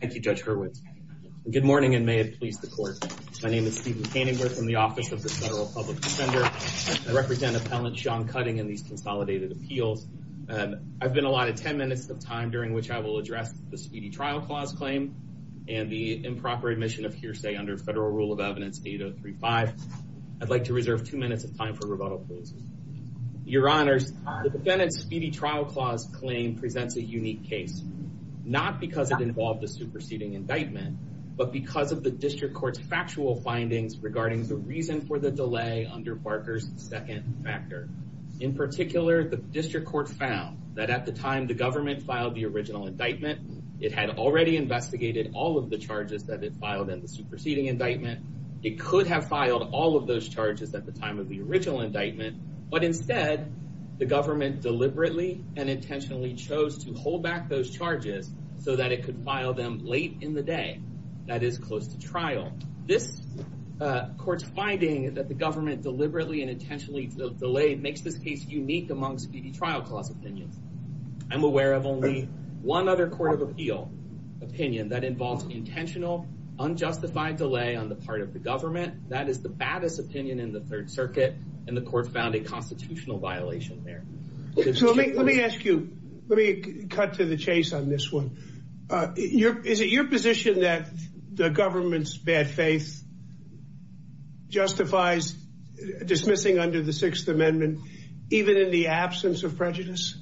Thank you, Judge Hurwitz. Good morning and may it please the court. My name is Steven Paintinger from the Office of the Federal Public Defender. I represent Appellant Sean Cutting in the Consolidated Appeals. I've been allotted 10 minutes of time during which I will address the Speedy Trial Clause claim and the improper admission of hearsay under Federal Rule of Evidence 8035. I'd like to reserve two minutes of time for rebuttal, please. Your Honors, the defendant's Speedy Trial Clause claim presents a unique case, not because it involved a superseding indictment, but because of the District Court's factual findings regarding the reason for the delay under Barker's second factor. In particular, the District Court found that at the time the government filed the original indictment, it had already investigated all of the charges that it filed in the superseding indictment. It could have filed all of those charges at the original indictment, but instead the government deliberately and intentionally chose to hold back those charges so that it could file them late in the day, that is, close to trial. This court's finding is that the government deliberately and intentionally delayed makes this case unique amongst Speedy Trial Clause opinions. I'm aware of only one other Court of Appeal opinion that involves intentional, unjustified delay on the part of the government. That is the baddest opinion in the Third Circuit, and the Court found a constitutional violation there. So let me ask you, let me cut to the chase on this one. Is it your position that the government's bad faith justifies dismissing under the Sixth Amendment, even in the absence of prejudice?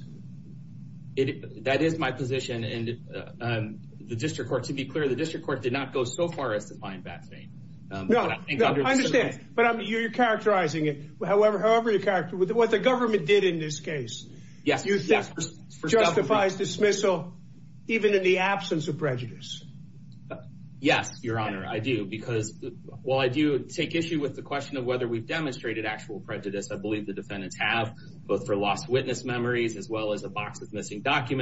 That is my position, and the District Court, to be clear, District Court did not go so far as to find bad faith. No, I understand, but you're characterizing it. However, however you characterize it, what the government did in this case, you think justifies dismissal even in the absence of prejudice? Yes, Your Honor, I do, because while I do take issue with the question of whether we've demonstrated actual prejudice, I believe the defendants have, both for lost witness memories, as well as a box with missing presumptive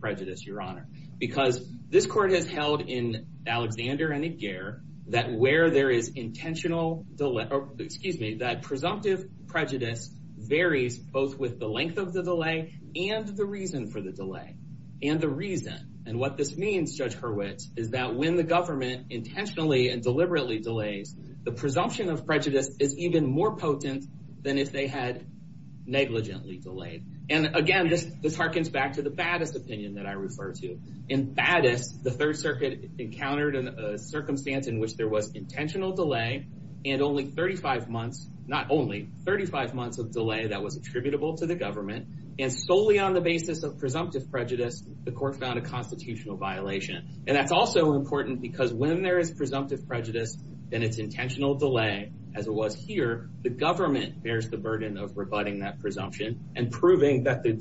prejudice, Your Honor, because this Court has held in Alexander and Aguirre that where there is intentional delay, excuse me, that presumptive prejudice varies both with the length of the delay and the reason for the delay, and the reason. And what this means, Judge Hurwitz, is that when the government intentionally and deliberately delays, the presumption of prejudice is even more potent than if they had negligently delayed. And again, this harkens back to the Faddis opinion that I refer to. In Faddis, the Third Circuit encountered a circumstance in which there was intentional delay and only 35 months, not only, 35 months of delay that was attributable to the government, and solely on the basis of presumptive prejudice, the Court found a constitutional violation. And that's also important because when there is presumptive prejudice, and it's intentional delay, as it was here, the government bears the burden of rebutting that presumption and proving that the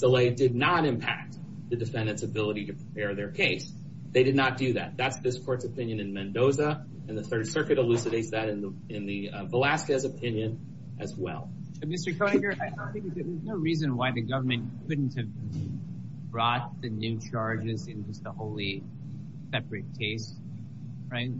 delay did not impact the defendant's ability to prepare their case. They did not do that. That's this Court's opinion in Mendoza, and the Third Circuit elucidates that in the Velazquez opinion as well. Mr. Koeniger, I don't think there's no reason why the government couldn't have brought the new charges into the wholly separate case, right?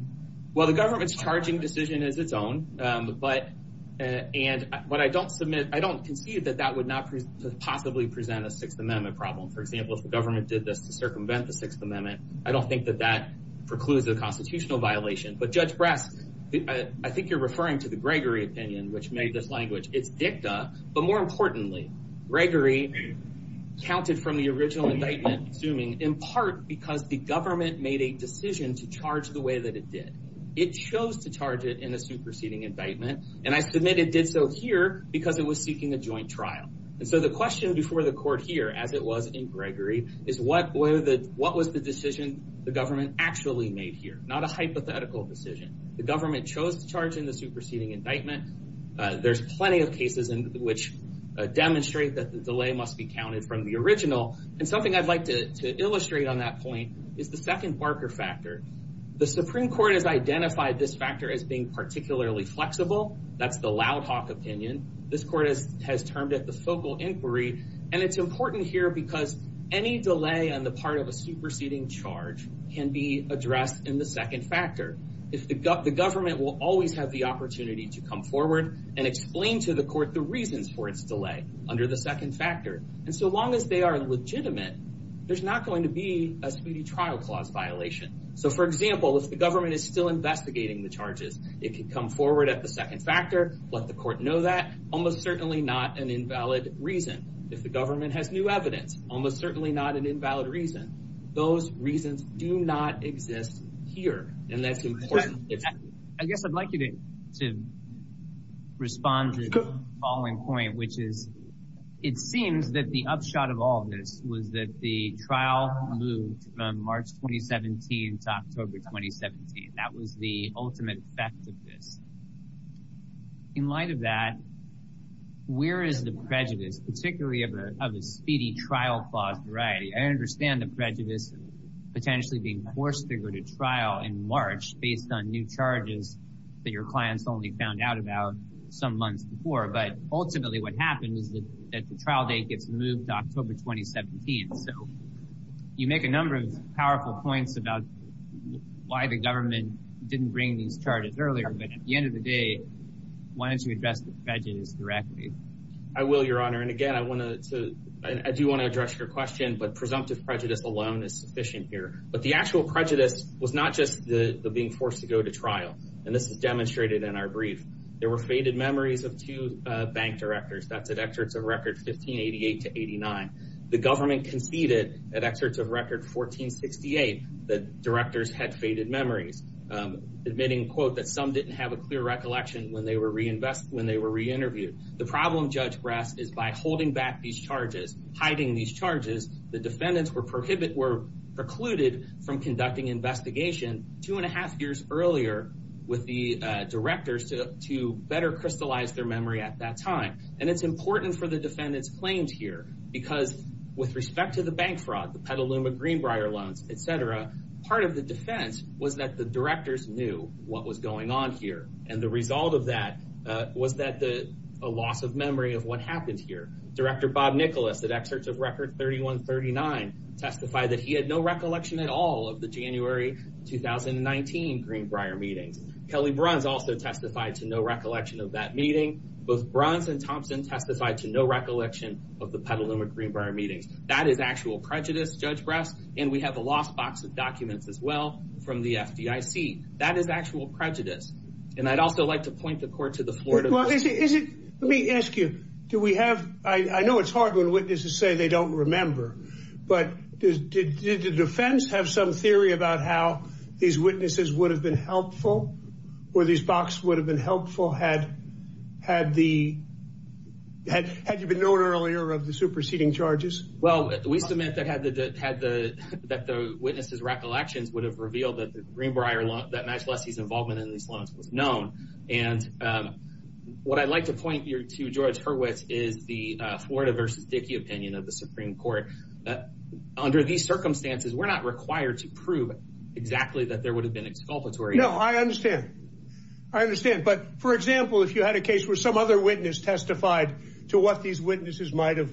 Well, the government's charging decision is its own, and what I don't submit, I don't concede that that would not possibly present a Sixth Amendment problem. For example, if the government did this to circumvent the Sixth Amendment, I don't think that that precludes a constitutional violation. But Judge Brack, I think you're referring to the Gregory opinion, which made this language. It did that, but more importantly, Gregory counted from the original indictment, assuming in part because the government made a decision to charge the way that it did. It chose to charge it in the superseding indictment, and I submit it did so here because it was seeking a joint trial. And so the question before the Court here, as it was in Gregory, is what was the decision the government actually made here? Not a hypothetical decision. The government chose to charge in the superseding indictment. There's plenty of cases in which demonstrate that the delay must be counted from the original, and something I'd like to illustrate on that point is the second Barker factor. The Supreme Court has identified this factor as being particularly flexible. That's the Loudhoff opinion. This Court has termed it the focal inquiry, and it's important here because any delay on the part of a superseding charge can be addressed in the second factor. The government will always have the opportunity to come forward and explain to the Court the reasons for its delay under the second factor, and so long as they are legitimate, there's not going to be a speedy trial clause violation. So, for example, if the government is still investigating the charges, it could come forward at the second factor, let the Court know that, almost certainly not an invalid reason. If the government has new evidence, almost certainly not an invalid reason. Those reasons do not exist here, and that's important. I guess I'd like you to respond to the following point, which is it seems that the upshot of all of this was that the trial moved from March 2017 to October 2017. That was the ultimate effect of this. In light of that, where is the prejudice, particularly of a speedy trial clause, right? I understand the prejudice potentially being forced to go to trial in March based on new charges that your clients only found out about some months before, but ultimately what happened is that the trial date gets moved to October 2017. You make a number of powerful points about why the government didn't bring charges earlier, but at the end of the day, why don't you invest the spending directly? I will, Your Honor, and again, I do want to address your question, but presumptive prejudice alone is sufficient here. But the actual prejudice was not just the being forced to go to trial, and this is demonstrated in our brief. There were faded memories of two bank directors, that's at excerpts of records 1588 to 89. The government conceded at excerpts of record 1468 that directors had faded memories, admitting, quote, that some didn't have a clear recollection when they were reinterviewed. The problem, Judge Brett, is by holding back these charges, hiding these charges, the defendants were precluded from conducting investigation two and a half years earlier with the directors to better crystallize their memory at that time. And it's important for the defendants' claims here because with respect to the bank fraud, the Petaluma Greenbrier loans, et cetera, part of the defense was that the directors knew what was going on here, and the result of that was that the loss of memory of what happened here. Director Bob Nicholas at excerpts of record 3139 testified that he had no recollection at all of the January 2019 Greenbrier meeting. Kelly Bruns also testified to no recollection of that meeting. Both Bruns and Thompson testified to no recollection of the Petaluma Greenbrier meeting. That is actual prejudice, Judge Brett, and we have a lost box of documents as well from the FDIC. That is actual prejudice. And I'd also like to point the court to the floor. Well, let me ask you, do we have, I know it's hard when witnesses say they don't remember, but did the defense have some theory about how these witnesses would have been helpful, where these boxes would have been helpful, had you been aware earlier of the superseding charges? Well, we submit that the witnesses' recollections would have revealed that the Greenbrier loan, that NYSE lessee's involvement in these loans was known. And what I'd like to point here to George Hurwicz is the Florida v. Dickey opinion of the Supreme Court that under these circumstances, we're not required to prove exactly that there would have been exculpatory. No, I understand. I understand. But for example, if you had a case where some other witness testified to what these witnesses might've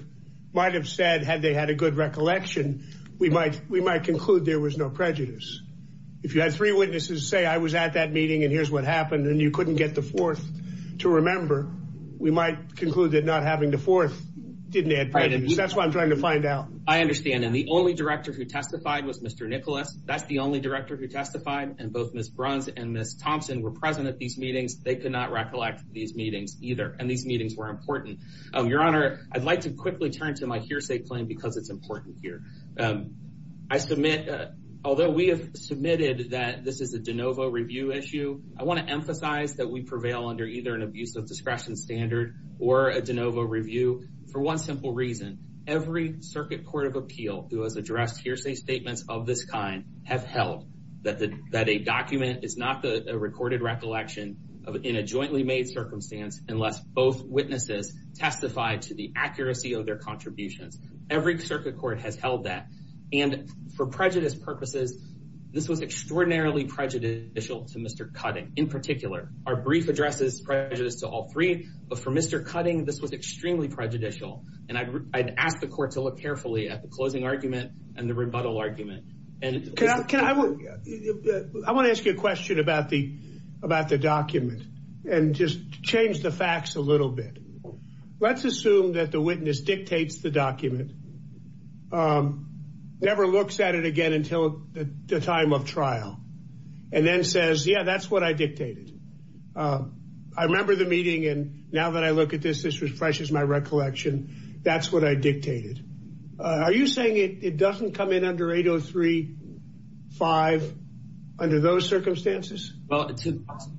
said, had they had a good recollection, we might conclude there was no prejudice. If you had three witnesses say, I was at that meeting and here's what happened, and you couldn't get the fourth to remember, we might conclude that not having the fourth didn't add prejudice. That's what I'm trying to find out. I understand. And the only director who testified was Mr. Nikola. That's the only director who and Ms. Thompson were present at these meetings. They could not recollect these meetings either. And these meetings were important. Your Honor, I'd like to quickly turn to my hearsay claim because it's important here. I submit, although we have submitted that this is a de novo review issue, I want to emphasize that we prevail under either an abuse of discretion standard or a de novo review for one simple reason. Every circuit court of appeal who has addressed hearsay statements of this kind has held that a document is not a recorded recollection in a jointly made circumstance unless both witnesses testified to the accuracy of their contribution. Every circuit court has held that. And for prejudice purposes, this was extraordinarily prejudicial to Mr. Cutting in particular. Our brief addresses prejudice to all three, but for Mr. Cutting, this was extremely prejudicial. And I'd ask the court to look carefully at the closing argument and the rebuttal argument. I want to ask you a question about the document and just change the facts a little bit. Let's assume that the witness dictates the document, never looks at it again until the time of trial, and then says, yeah, that's what I dictated. I remember the meeting and now that I look at this, this refreshes my recollection. That's what I dictated. Are you saying it doesn't come in under 803-5 under those circumstances?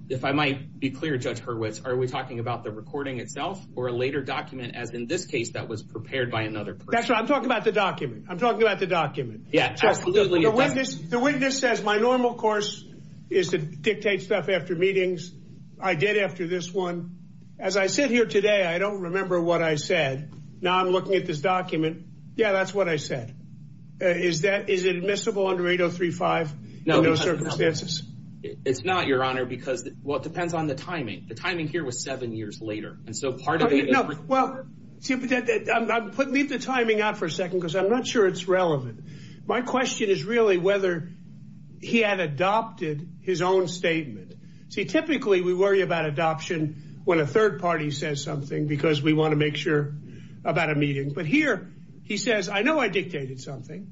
If I might be clear, Judge Hurwitz, are we talking about the recording itself or a later document, as in this case, that was prepared by another person? That's right. I'm talking about the document. I'm talking about the document. The witness says my normal course is to dictate stuff after meetings. I did after this one. As I sit here today, I don't remember what I said. I'm looking at this document. Yeah, that's what I said. Is it admissible under 803-5? It's not, Your Honor, because it depends on the timing. The timing here was seven years later. Leave the timing out for a second because I'm not sure it's relevant. My question is really whether he had adopted his own statement. Typically, we worry about adoption when a third party says something because we want to make sure about a meeting. Here, he says, I know I dictated something.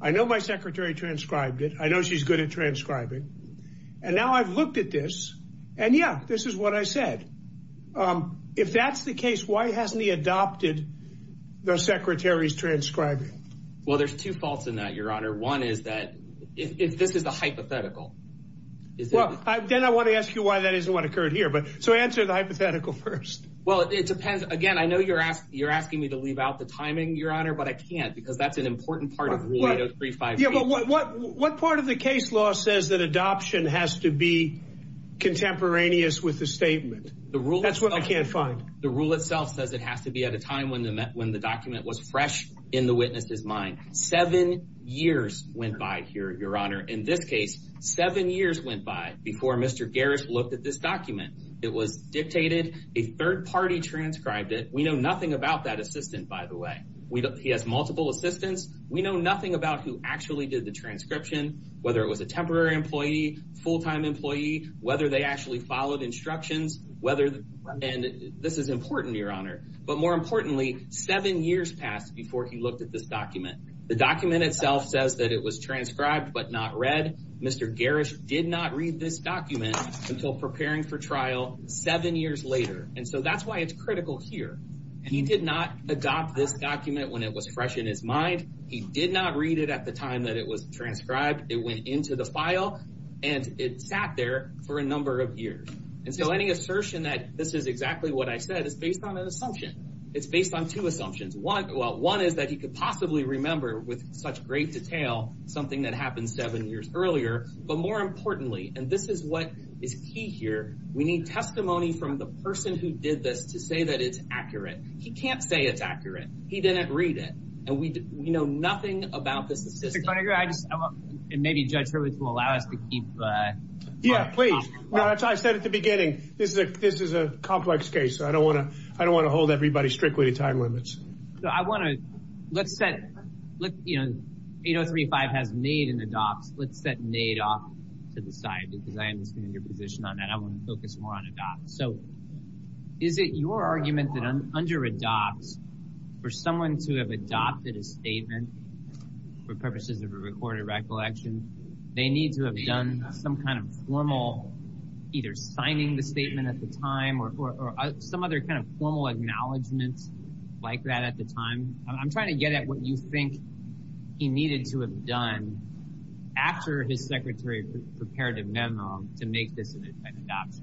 I know my secretary transcribed it. I know she's good at transcribing. Now I've looked at this, and yeah, this is what I said. If that's the case, why hasn't he adopted the secretary's transcribing? There's two faults in that, Your Honor. One is that this is a hypothetical. Then I want to ask you why that isn't what first? Well, it depends. Again, I know you're asking me to leave out the timing, Your Honor, but I can't because that's an important part of 803-5. What part of the case law says that adoption has to be contemporaneous with the statement? That's what I can't find. The rule itself says it has to be at a time when the document was fresh in the witness's mind. Seven years went by here, Your Honor. In this case, seven years went by before Mr. Garris looked at this document. It was dictated. A third party transcribed it. We know nothing about that assistant, by the way. He has multiple assistants. We know nothing about who actually did the transcription, whether it was a temporary employee, full-time employee, whether they actually followed instructions. This is important, Your Honor, but more importantly, seven years passed before he looked at this document. The document itself says that it was transcribed, but not read. Mr. Garris did not read this document until preparing for trial seven years later. And so that's why it's critical here. He did not adopt this document when it was fresh in his mind. He did not read it at the time that it was transcribed. It went into the file and it sat there for a number of years. And so any assertion that this is exactly what I said is based on an assumption. It's based on two assumptions. One is that he could possibly remember with such great detail something that happened seven years earlier. But more importantly, and this is what is key here, we need testimony from the person who did this to say that it's accurate. He can't say it's accurate. He didn't read it. And we know nothing about the specifics. And maybe Judge Hurley can allow us to keep... Yeah, please. As I said at the beginning, this is a complex case, so I don't want to hold everybody strictly to time limits. So I want to... Let's set... 8035 has made an adopt. Let's set made off to the side, because I understand your position on that. I want to focus more on adopt. So is it your argument that under adopt, for someone to have adopted a statement for purposes of a recorded recollection, they need to have done some kind of formal either I'm trying to get at what you think he needed to have done after his secretary prepared a memo to make this an adopt.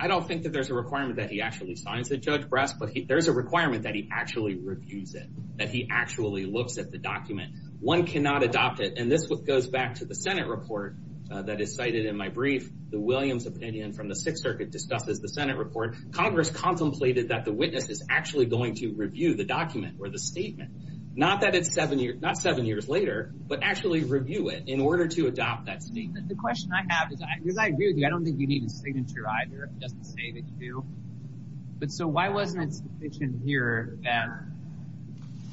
I don't think that there's a requirement that he actually signed the judge breast, but there's a requirement that he actually refused it, that he actually looked at the document. One cannot adopt it. And this goes back to the Senate report that is cited in my brief, the Williams opinion from the Sixth Circuit to stuff that the Senate report, Congress contemplated that the witness is actually going to review the document or the statement. Not that it's seven years later, but actually review it in order to adopt that statement. The question I have is I don't think you need a signature either. But so why wasn't it here?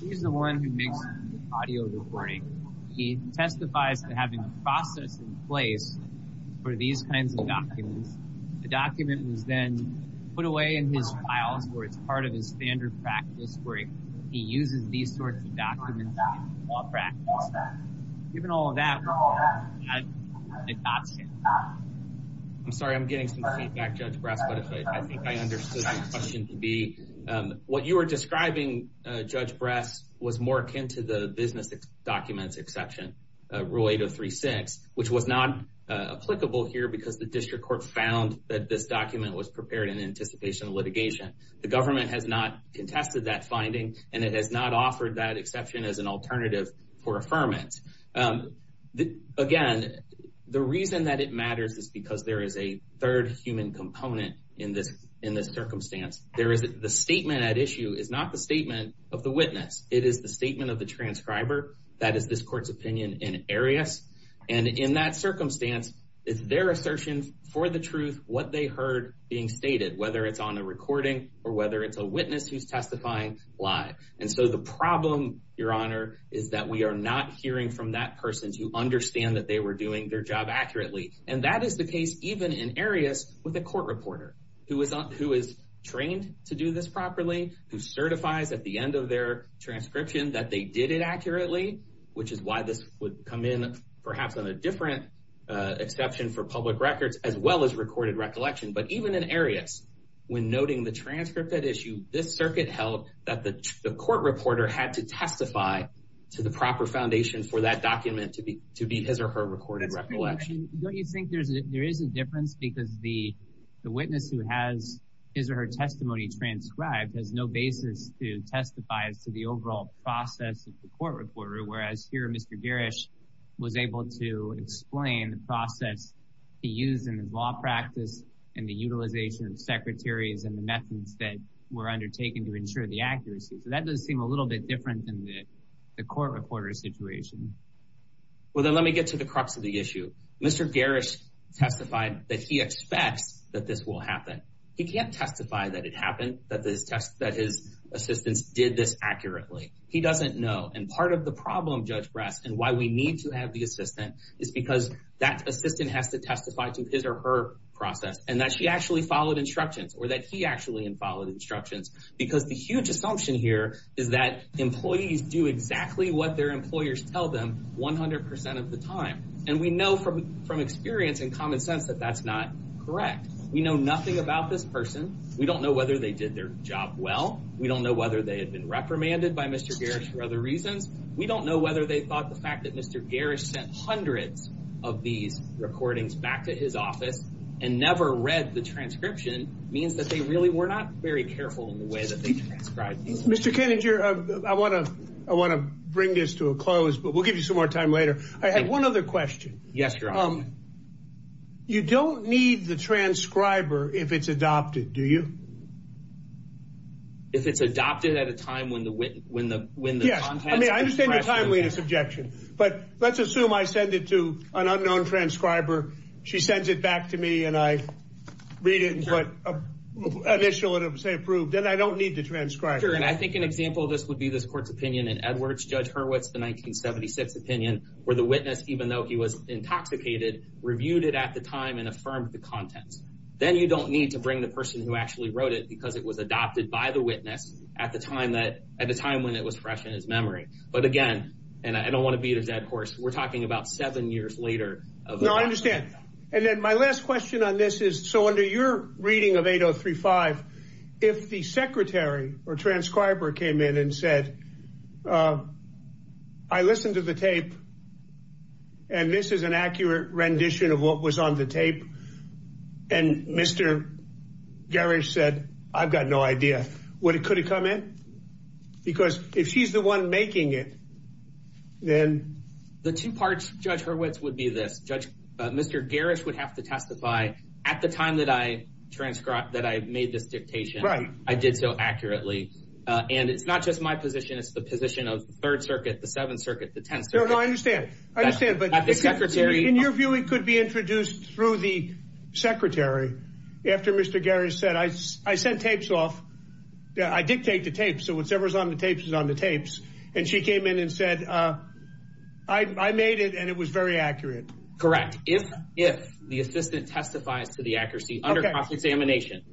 He's the one who makes audio recording. He testified to having a process in place for these kinds of documents. The document was then put away in his file for it's part of his standard practice where he uses these sorts of documents. Given all of that. I'm sorry, I'm getting some feedback, but I think I understood the question to be what you were describing judge breath was more akin to the business documents exception rule 8036, which was not applicable here because the district court found that this document was prepared in anticipation of litigation. The government has not contested that finding, and it has not offered that exception as an alternative for affirming. Again, the reason that it matters is because there is a third human component in this circumstance. There is the statement at issue is not the statement of the witness. It is the statement of the transcriber. That is this court's opinion in areas. And in that circumstance, it's their assertion for the truth, what they heard being stated, whether it's on a recording or whether it's a witness who's testifying live. And so the problem, your honor, is that we are not hearing from that person to understand that they were doing their job accurately. And that is the case, even in areas with a court reporter who is who is trained to do this did it accurately, which is why this would come in perhaps on a different exception for public records as well as recorded recollection. But even in areas when noting the transcript that issue, this circuit held that the court reporter had to testify to the proper foundation for that document to be to be his or her recorded recollection. Don't you think there is a difference because the witness who has his or her testimony transcribed has no basis to testify to the overall process of the court reporter, whereas here Mr. Garish was able to explain the process he used in his law practice and the utilization of secretaries and the methods that were undertaken to ensure the accuracy. So that does seem a little bit different than the court reporter situation. Well, then let me get to the crux of the issue. Mr. Garish testified that he expects that this will happen. He kept testifying that it happened, that the test, that his assistants did this accurately. He doesn't know. And part of the problem, Judge Bratz, and why we need to have the assistant is because that assistant has to testify to his or her process and that she actually followed instructions or that he actually followed instructions, because the huge assumption here is that employees do exactly what their employers tell them 100% of the time. And we know from from experience and common sense that that's not correct. We know nothing about this person. We don't know whether they did their job well. We don't know whether they had been reprimanded by Mr. Garish for other reasons. We don't know whether they thought the fact that Mr. Garish sent hundreds of these recordings back to his office and never read the transcription means that they really were not very careful in the way that they transcribed. Mr. Kennedy, I want to bring this to a close, but we'll give you some more time later. I have one other question. Yes, Your Honor. You don't need the transcriber if it's adopted, do you? If it's adopted at a time when the, when the, when the... Yes, I mean, I understand the time limit of subjection, but let's assume I send it to an unknown transcriber. She sends it back to me and I read it and put initial and 100% approved, then I don't need the transcriber. Sure, and I think an example of this would be this court's opinion in Edwards, Judge Hurwitz, the 1976 opinion where the witness, even though he was intoxicated, reviewed it at the time and affirmed the content. Then you don't need to bring the person who actually wrote it because it was adopted by the witness at the time that, at the time when it was fresh in his memory. But again, and I don't want to beat a dead horse, we're talking about seven years later. No, I understand. And then my last question on this is, so under your reading of 8035, if the secretary or transcriber came in and said, I listened to the tape and this is an accurate rendition of what was on the tape. And Mr. Gerrish said, I've got no idea. Would it, could it come in? Because if she's the one making it, then... The two parts, Judge Hurwitz would be this, Judge, Mr. Gerrish would have to testify at the time that I transcribed, that I made this dictation. Right. I did so accurately. And it's not just my position. It's the position of third circuit, the seventh circuit, the tenth circuit. I understand. I understand. But in your view, it could be introduced through the secretary after Mr. Gerrish said, I sent tapes off. I dictate the tapes. So whatever's on the tapes is on the tapes. And she came in and said, I made it and it was very accurate. Correct. If, the assistant testified to the accuracy under process examination,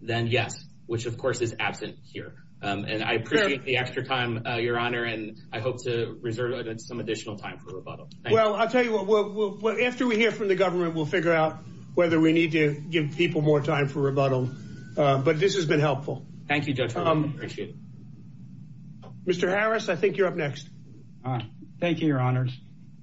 then yes, which of course is absent here. And I appreciate the extra time, Your Honor. And I hope to reserve some additional time for rebuttal. Well, I'll tell you what, we'll, after we hear from the government, we'll figure out whether we need to give people more time for rebuttal. But this has been helpful. Thank you, Judge, I appreciate it. Mr. Harris, I think you're up next. Thank you, Your Honors.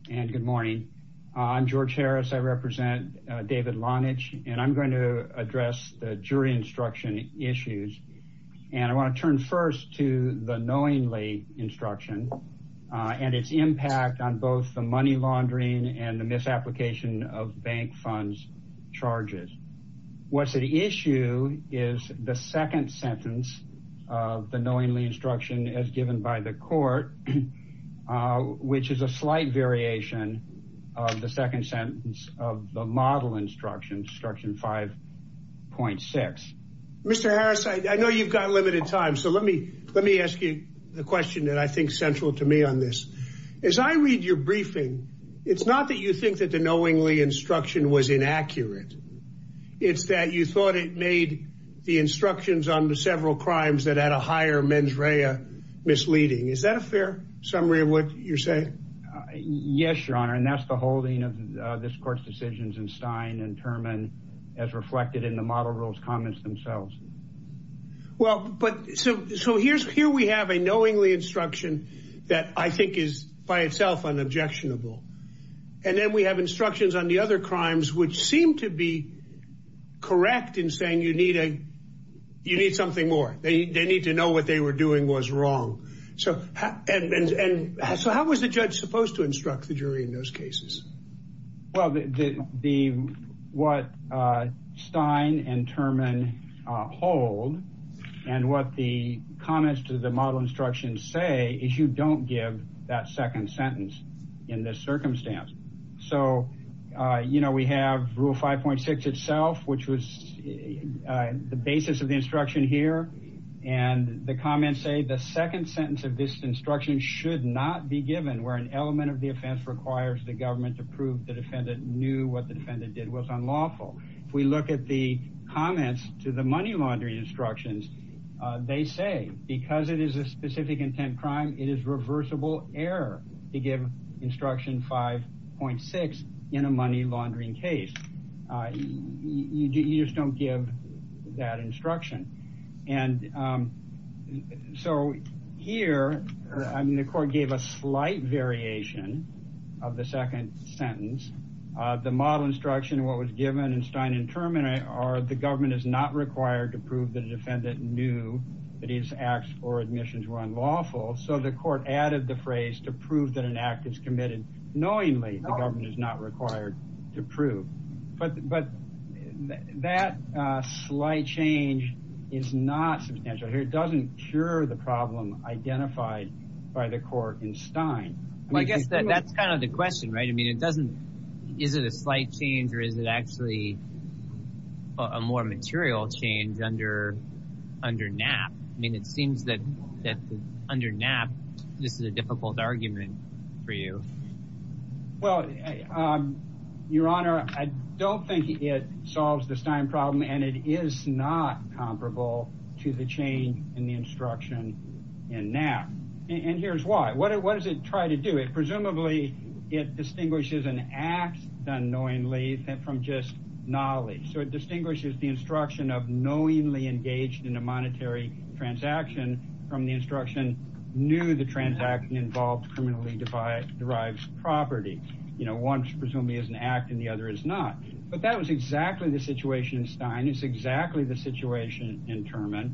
And good morning. I'm George Harris. I represent David Lonage, and I'm going to address the jury instruction issues. And I want to turn first to the knowingly instruction and its impact on both the money laundering and the misapplication of bank funds charges. What's at issue is the second sentence of the knowingly instruction as given by the court. Which is a slight variation of the second sentence of the model instruction, instruction 5.6. Mr. Harris, I know you've got limited time. So let me ask you the question that I think central to me on this. As I read your briefing, it's not that you think that the knowingly instruction was inaccurate. It's that you thought it made the instructions on the several crimes that had a higher mens rea misleading. Is that a fair summary of what you're saying? Yes, Your Honor. And that's the holding of this court's decisions in Stein and Terman as reflected in the model rules comments themselves. Well, so here we have a knowingly instruction that I think is by itself unobjectionable. And then we have instructions on the other crimes which seem to be correct in saying you need a, you need something more. They need to know what they were doing was wrong. So how was the judge supposed to instruct the jury in those cases? Well, the, what Stein and Terman hold and what the comments to the model instruction say is you don't give that second sentence in this circumstance. So, you know, we have rule 5.6 itself, which was the basis of the instruction here. And the comments say the second sentence of this instruction should not be given where an element of the offense requires the government to prove the defendant knew what the defendant did was unlawful. If we look at the comments to the money laundering instructions, they say, because it is a specific intent crime, it is reversible error to give instruction 5.6 in a money laundering case. You just don't give that instruction. And so here, I mean, the court gave a slight variation of the second sentence. The model instruction, what was given in Stein and Terman are the government is not required to prove the that an act is committed knowingly, the government is not required to prove, but that slight change is not substantial here. It doesn't cure the problem identified by the court in Stein. Well, I guess that's kind of the question, right? I mean, it doesn't, is it a slight change or is it actually a more material change under NAP? I mean, it seems that under NAP, this is a difficult argument for you. Well, Your Honor, I don't think it solves the Stein problem and it is not comparable to the change in the instruction in NAP. And here's why. What does it try to do? Presumably, it distinguishes an act done knowingly from just knowledge. So it distinguishes the instruction of knowingly engaged in a monetary transaction from the instruction knew the transaction involved criminally derives property. You know, one presumably is an act and the other is not. But that was exactly the situation in Stein. It's exactly the situation in Terman.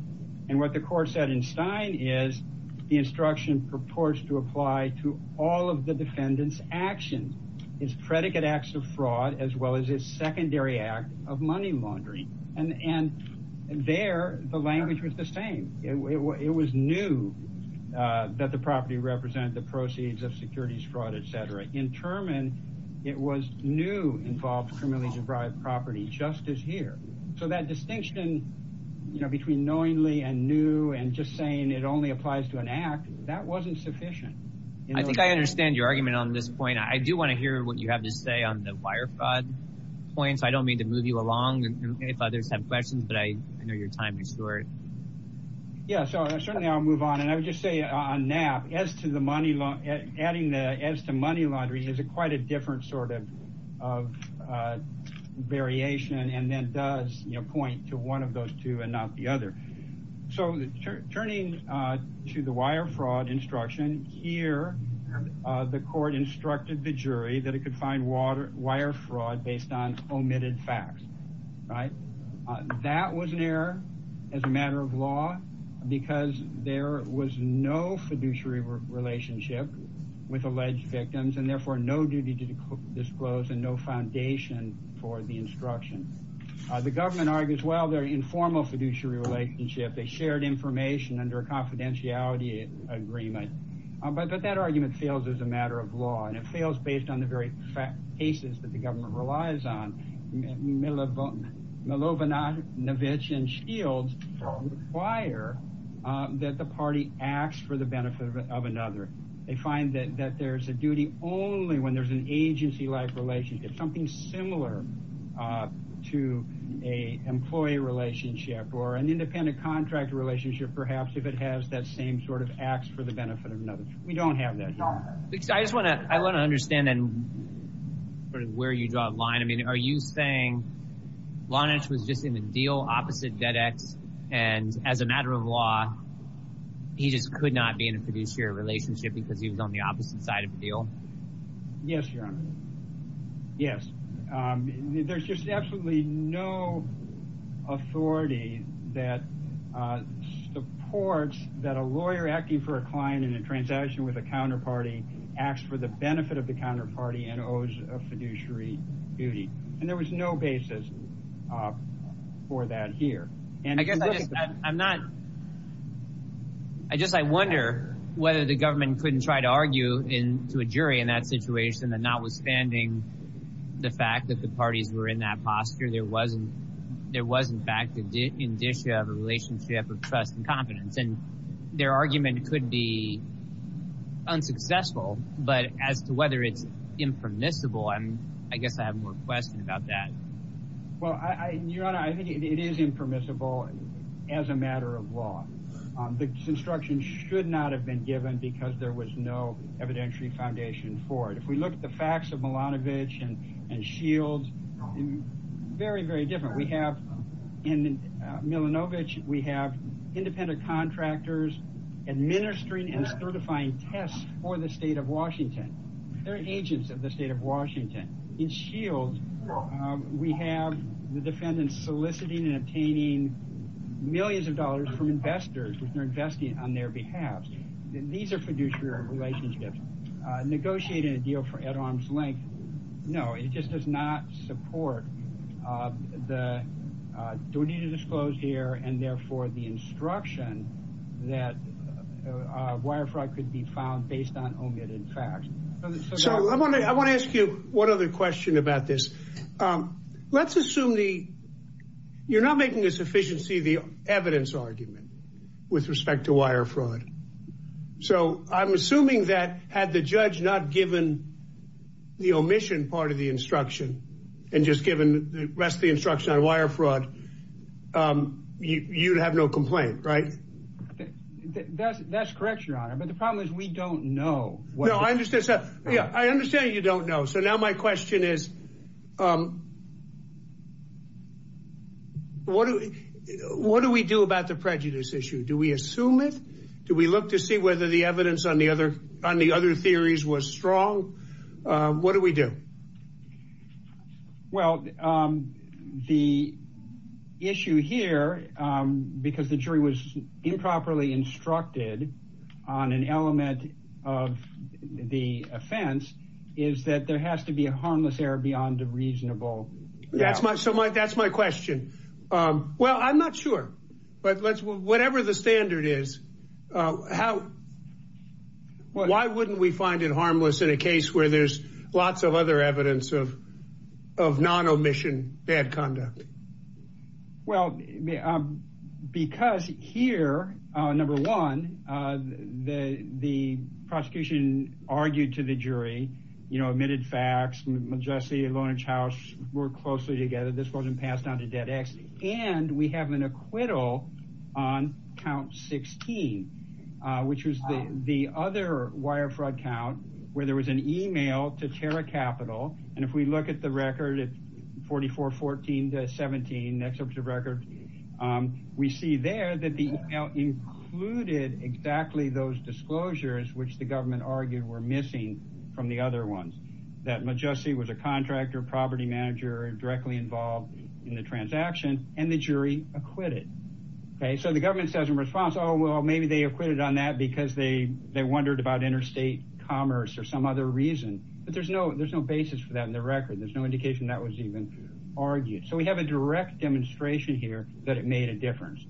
And what the court said in Stein is the instruction purports to apply to all of the defendant's actions, its predicate acts of fraud, as well as its secondary act of money laundering. And there, the language was the same. It was new that the property represent the proceeds of securities, fraud, et cetera. In Terman, it was new involved criminally derived property justice here. So that distinction, you know, between knowingly and new and just saying it only applies to an act, that wasn't sufficient. I think I understand your argument on this point. I do want to hear what you have to say on the wire fraud points. I don't mean to move you along with other questions, but I know your time is short. Yeah, so certainly, I'll move on. And I would just say on that, as to the money, adding that as to money laundering is quite a different sort of variation. And that does point to one of those two and not the other. So turning to the wire fraud instruction here, the court instructed the jury that it could find wire fraud based on omitted facts, right? That was an error as a matter of law because there was no fiduciary relationship with alleged victims and therefore no duty to disclose and no foundation for the instruction. The government argues, well, they're informal fiduciary relationship. They shared information under a confidentiality agreement. But that argument fails as a matter of law. And it fails based on the very cases that the government relies on. Milovanovich and Shields require that the party acts for the benefit of another. They find that there's a duty only when there's an agency-like relationship, something similar to an employee relationship or an independent contract relationship, perhaps, if it has that same sort of acts for the benefit of another. We don't have that. I just want to, I want to understand where you draw the line. I mean, are you saying Lonish was just in a deal opposite Dedek and as a matter of law, he just could not be in a fiduciary relationship because he was on the opposite side of the deal? Yes, yes. There's just absolutely no authority that supports that a lawyer acting for a client in a transaction with a counterparty acts for the benefit of the counterparty and owes a fiduciary duty. And there was no basis for that here. I guess I'm not, I guess I wonder whether the situation and notwithstanding the fact that the parties were in that posture, there wasn't, there was in fact an issue of a relationship of trust and confidence and their argument could be unsuccessful. But as to whether it's impermissible, I mean, I guess I have more questions about that. Well, Your Honor, I think it is impermissible as a matter of law. This instruction should not have been given because there was no evidentiary foundation for it. If we look at the facts of Milanovic and Shields, very, very different. We have in Milanovic, we have independent contractors administering and certifying tests for the state of Washington. They're agents of the state of Washington. In Shields, we have the defendants soliciting and obtaining millions of dollars from investors who are investing on their behalf. These are fiduciary relationships. Negotiating a deal for at arm's length, no, it just does not support the duty to disclose here and therefore the instruction that wire fraud could be found based on omitted facts. So I want to ask you one other question about this. Let's assume you're not making this efficiency the evidence argument with respect to wire fraud. So I'm assuming that had the judge not given the omission part of the instruction and just given the rest of the instruction on wire fraud, you'd have no complaint, right? That's correct, Your Honor. But the problem is we don't know. No, I understand. I understand you don't know. So now my question is, what do we do about the prejudice issue? Do we assume it? Do we look to see whether the evidence on the other theories was strong? What do we do? Well, the issue here, because the jury was improperly instructed on an element of the offense, is that there has to be a harmless error beyond a reasonable. That's my question. Well, I'm not sure. Whatever the standard is, why wouldn't we find it harmless in a case where there's lots of other evidence of non-omission bad conduct? Well, because here, number one, the prosecution argued to the jury, you know, omitted facts, Majesty and Lowrench House worked closely together. This wasn't passed down to Dead X. And we have an acquittal on count 16, which is the other wire fraud count, where there was an email to Terra Capital. And if we look at the record, 4414 to 17, that's such a record. We see there that the email included exactly those disclosures which the government argued were missing from the other ones. That Majesty was a contractor, property manager, directly involved in the transaction, and the jury acquitted. So the government says in response, oh, well, maybe they acquitted on that because they wondered about interstate commerce or some other reason. But there's no basis for that in the record. There's no indication that was even argued. So we have a direct demonstration here that it made a difference.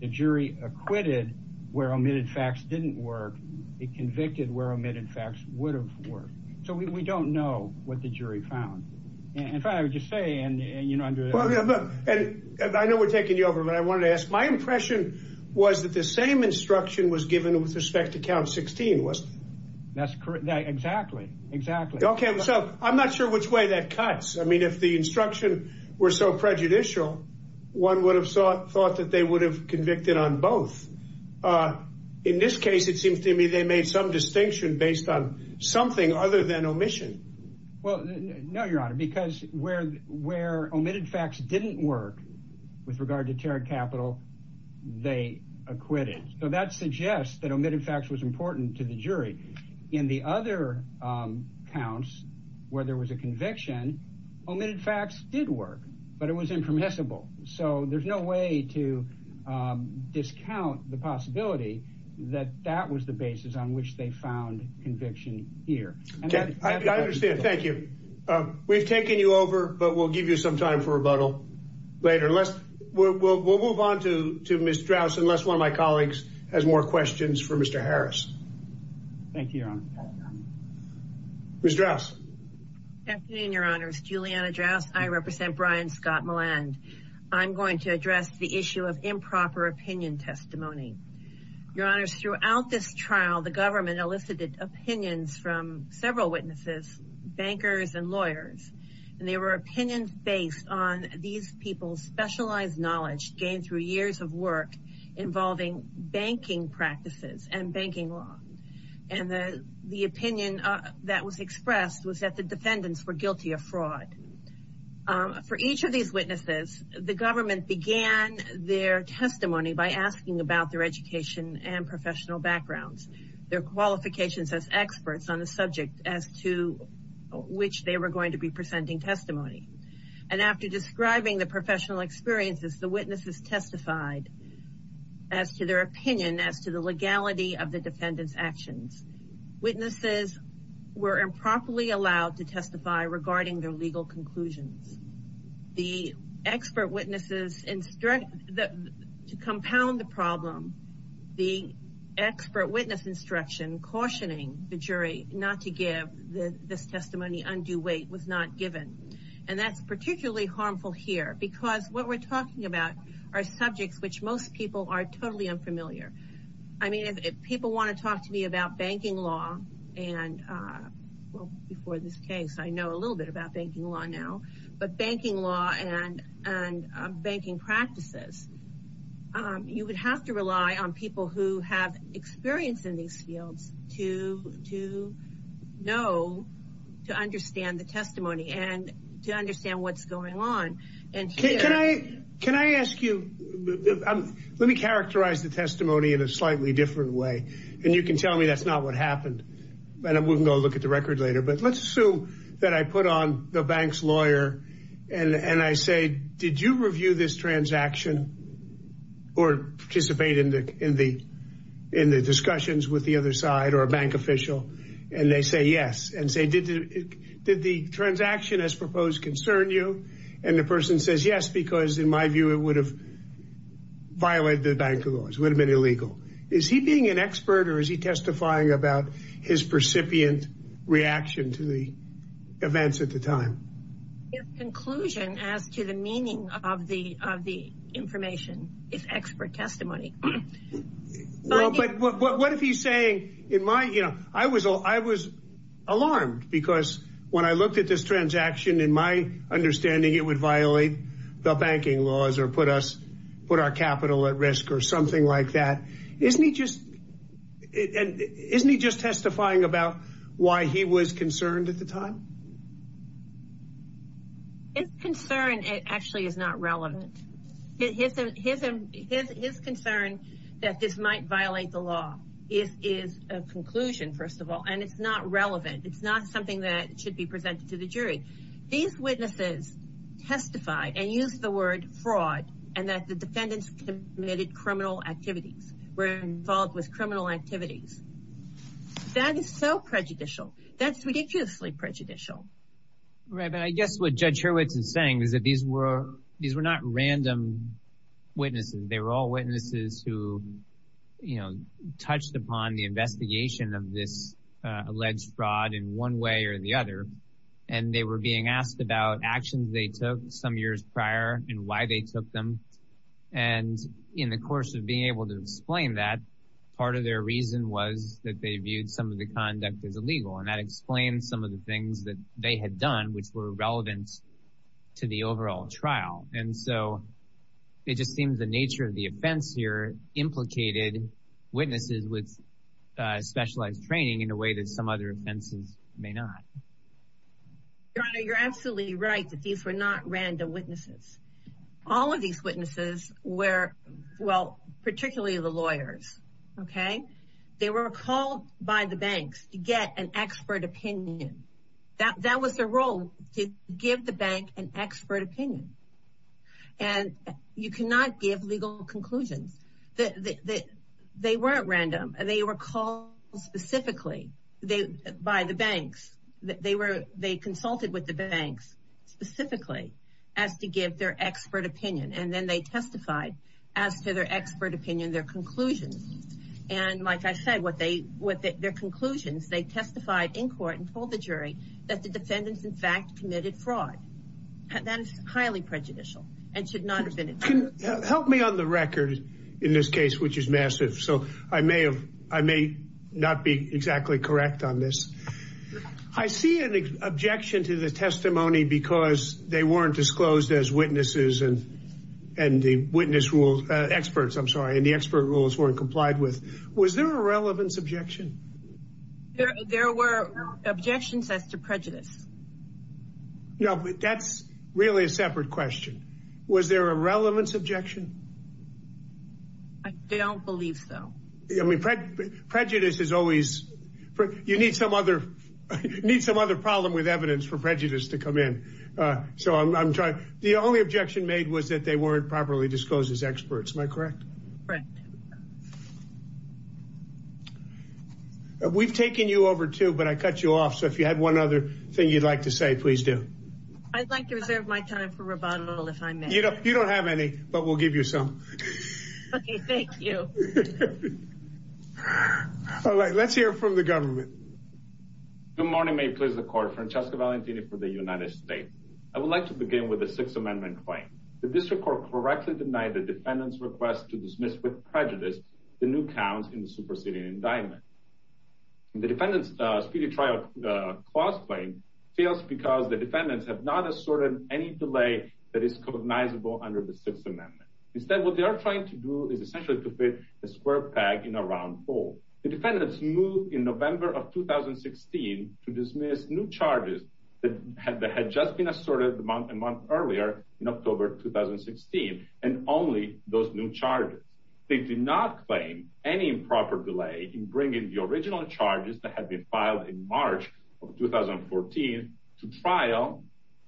The jury acquitted where omitted facts didn't work. It convicted where omitted facts would have worked. So we don't know what the jury found. In fact, I would want to ask, my impression was that the same instruction was given with respect to count 16, wasn't it? That's correct. Exactly. Exactly. Okay. So I'm not sure which way that cuts. I mean, if the instruction were so prejudicial, one would have thought that they would have convicted on both. In this case, it seems to me they made some distinction based on something other than omitted facts didn't work with regard to tariff capital they acquitted. So that suggests that omitted facts was important to the jury. In the other counts where there was a conviction, omitted facts did work, but it was impermissible. So there's no way to discount the possibility that that was the basis on which they found conviction here. I understand. Thank you. We've taken you over, but we'll give you some time for rebuttal later. We'll move on to Ms. Drouse unless one of my colleagues has more questions for Mr. Harris. Thank you, Your Honor. Ms. Drouse. Good afternoon, Your Honors. Juliana Drouse. I represent Brian Scott Milland. I'm going to address the issue of improper opinion testimony. Your Honors, throughout this trial, the government elicited opinions from several witnesses, bankers and lawyers. And they were opinions based on these people's specialized knowledge gained through years of work involving banking practices and banking law. And the opinion that was expressed was that the defendants were guilty of fraud. For each of these witnesses, the government began their testimony by asking about their education and professional backgrounds, their qualifications as experts on the subject as to which they were going to be presenting testimony. And after describing the professional experiences, the witnesses testified as to their opinion, as to the legality of the defendant's actions. Witnesses were improperly to compound the problem, the expert witness instruction cautioning the jury not to give this testimony undue weight was not given. And that's particularly harmful here because what we're talking about are subjects which most people are totally unfamiliar. I mean, if people want to talk to me about banking law and well, before this case, I know a little bit about banking law now, but banking law and, and banking practices, you would have to rely on people who have experience in these fields to, to know, to understand the testimony and to understand what's going on. And can I, can I ask you, let me characterize the testimony in a slightly different way. And you can tell me that's not what happened, but I wouldn't go look at the and, and I say, did you review this transaction or participate in the, in the, in the discussions with the other side or a bank official? And they say, yes. And say, did the, did the transaction as proposed concern you? And the person says, yes, because in my view, it would have violated the bank laws, would have been illegal. Is he being an expert or is he testifying about his recipient reaction to the events at the time? His conclusion as to the meaning of the, of the information, it's expert testimony. What if he's saying in my, you know, I was, I was alarmed because when I looked at this transaction in my understanding, it would violate the banking laws or put us, put our capital at about why he was concerned at the time. It's concerned. It actually is not relevant. His, his, his, his, his concern that this might violate the law is, is a conclusion, first of all, and it's not relevant. It's not something that should be presented to the jury. These witnesses testify and use the word fraud and that the defendants committed criminal activities were involved with criminal activities. That is so prejudicial. That's ridiculously prejudicial. Right. But I guess what judge Hurwitz is saying is that these were, these were not random witnesses. They were all witnesses who, you know, touched upon the investigation of this alleged fraud in one way or the other. And they were being asked about actions they took some years prior and why they took them. And in the course of being able to explain that part of their reason was that they viewed some of the conduct as illegal. And I explained some of the things that they had done, which were relevant to the overall trial. And so it just seems the nature of the offense here implicated witnesses with specialized training in a way that some other offenses may not. Your Honor, you're absolutely right that these were not random witnesses. All of these witnesses were, well, particularly the lawyers. Okay. They were called by the banks to get an expert opinion. That was their role to give the bank an expert opinion. And you cannot give legal conclusions. They weren't random. They were called specifically by the banks. They consulted with the banks specifically as to give their expert opinion. And then they testified as to their expert opinion, their conclusions. And like I said, their conclusions, they testified in court and told the jury that the defendants in fact committed fraud. That is highly prejudicial and should not have been. Help me on the record in this case, which is massive. So I may have, I may not be exactly correct on this. I see an objection to the testimony because they weren't disclosed as witnesses and the witness rules, experts, I'm sorry. And the expert rules weren't complied with. Was there a relevance objection? There were objections as to prejudice. No, that's really a separate question. Was there a relevance objection? They don't believe so. Prejudice is always, you need some other problem with evidence for prejudice to come in. So I'm trying, the only objection made was that they weren't properly disclosed as experts. Am I correct? Correct. We've taken you over too, but I cut you off. So if you had one other thing you'd like to say, please do. I'd like to reserve my time for rebuttal if I may. You don't have any, but we'll give you some. Okay, thank you. All right, let's hear from the government. Good morning, may it please the court. Francesco Valentini for the United States. I would like to begin with a Sixth Amendment claim. The district court correctly denied the defendant's request to dismiss with prejudice the new counts in the superseding indictment. The defendant's speedy trial clause claim fails because the defendants have not asserted any delay that is cognizable under the Sixth Amendment. Instead, what they are trying to do is essentially to fit a square peg in a round hole. The defendants moved in November of 2016 to dismiss new charges that had just been asserted a month earlier in October 2016, and only those new charges. They did not claim any improper delay in bringing the original charges that had been filed in March of 2014 to trial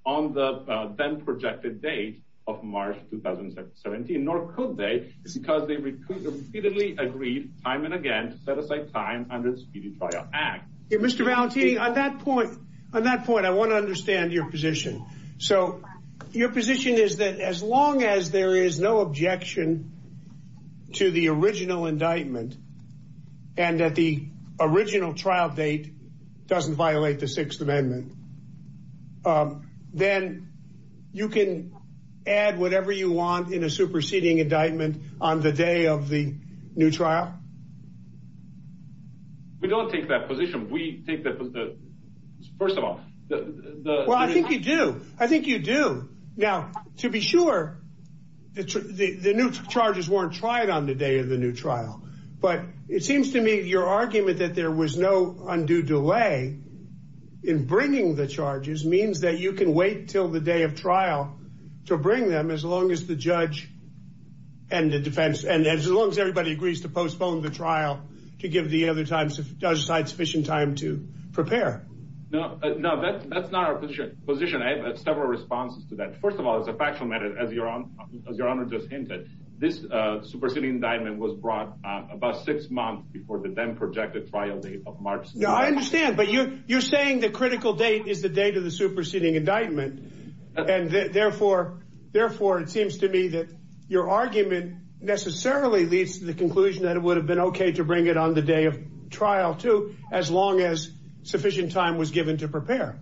on the then projected date of March 2017, nor could they because they repeatedly agreed time and again to set aside time under the Speedy Trial Act. Mr. Valentini, on that point, I want to understand your position. So your position is that as long as there is no objection to the original indictment, and that the original trial date doesn't violate the Sixth Amendment, then you can add whatever you want in a superseding indictment on the day of the new trial? We don't take that position. We think that, first of all... I think you do. I think you do. Now, to be sure, the new charges weren't tried on the day of the new trial, but it seems to me your argument that there was no undue delay in bringing the charges means that you can wait till the day of trial to bring them as long as the judge and the defense, and as long as everybody agrees to postpone the trial to give the other time to set aside sufficient time to prepare. No, that's not our position. I have several responses to that. First of all, as a factual matter, as your Honor just hinted, this superseding indictment was brought about six months before the then projected trial date of March... No, I understand, but you're saying the critical date is the date of the superseding indictment, and therefore it seems to me that your argument necessarily leads to the conclusion that it would have been okay to bring it on the day of trial, too, as long as sufficient time was given to prepare.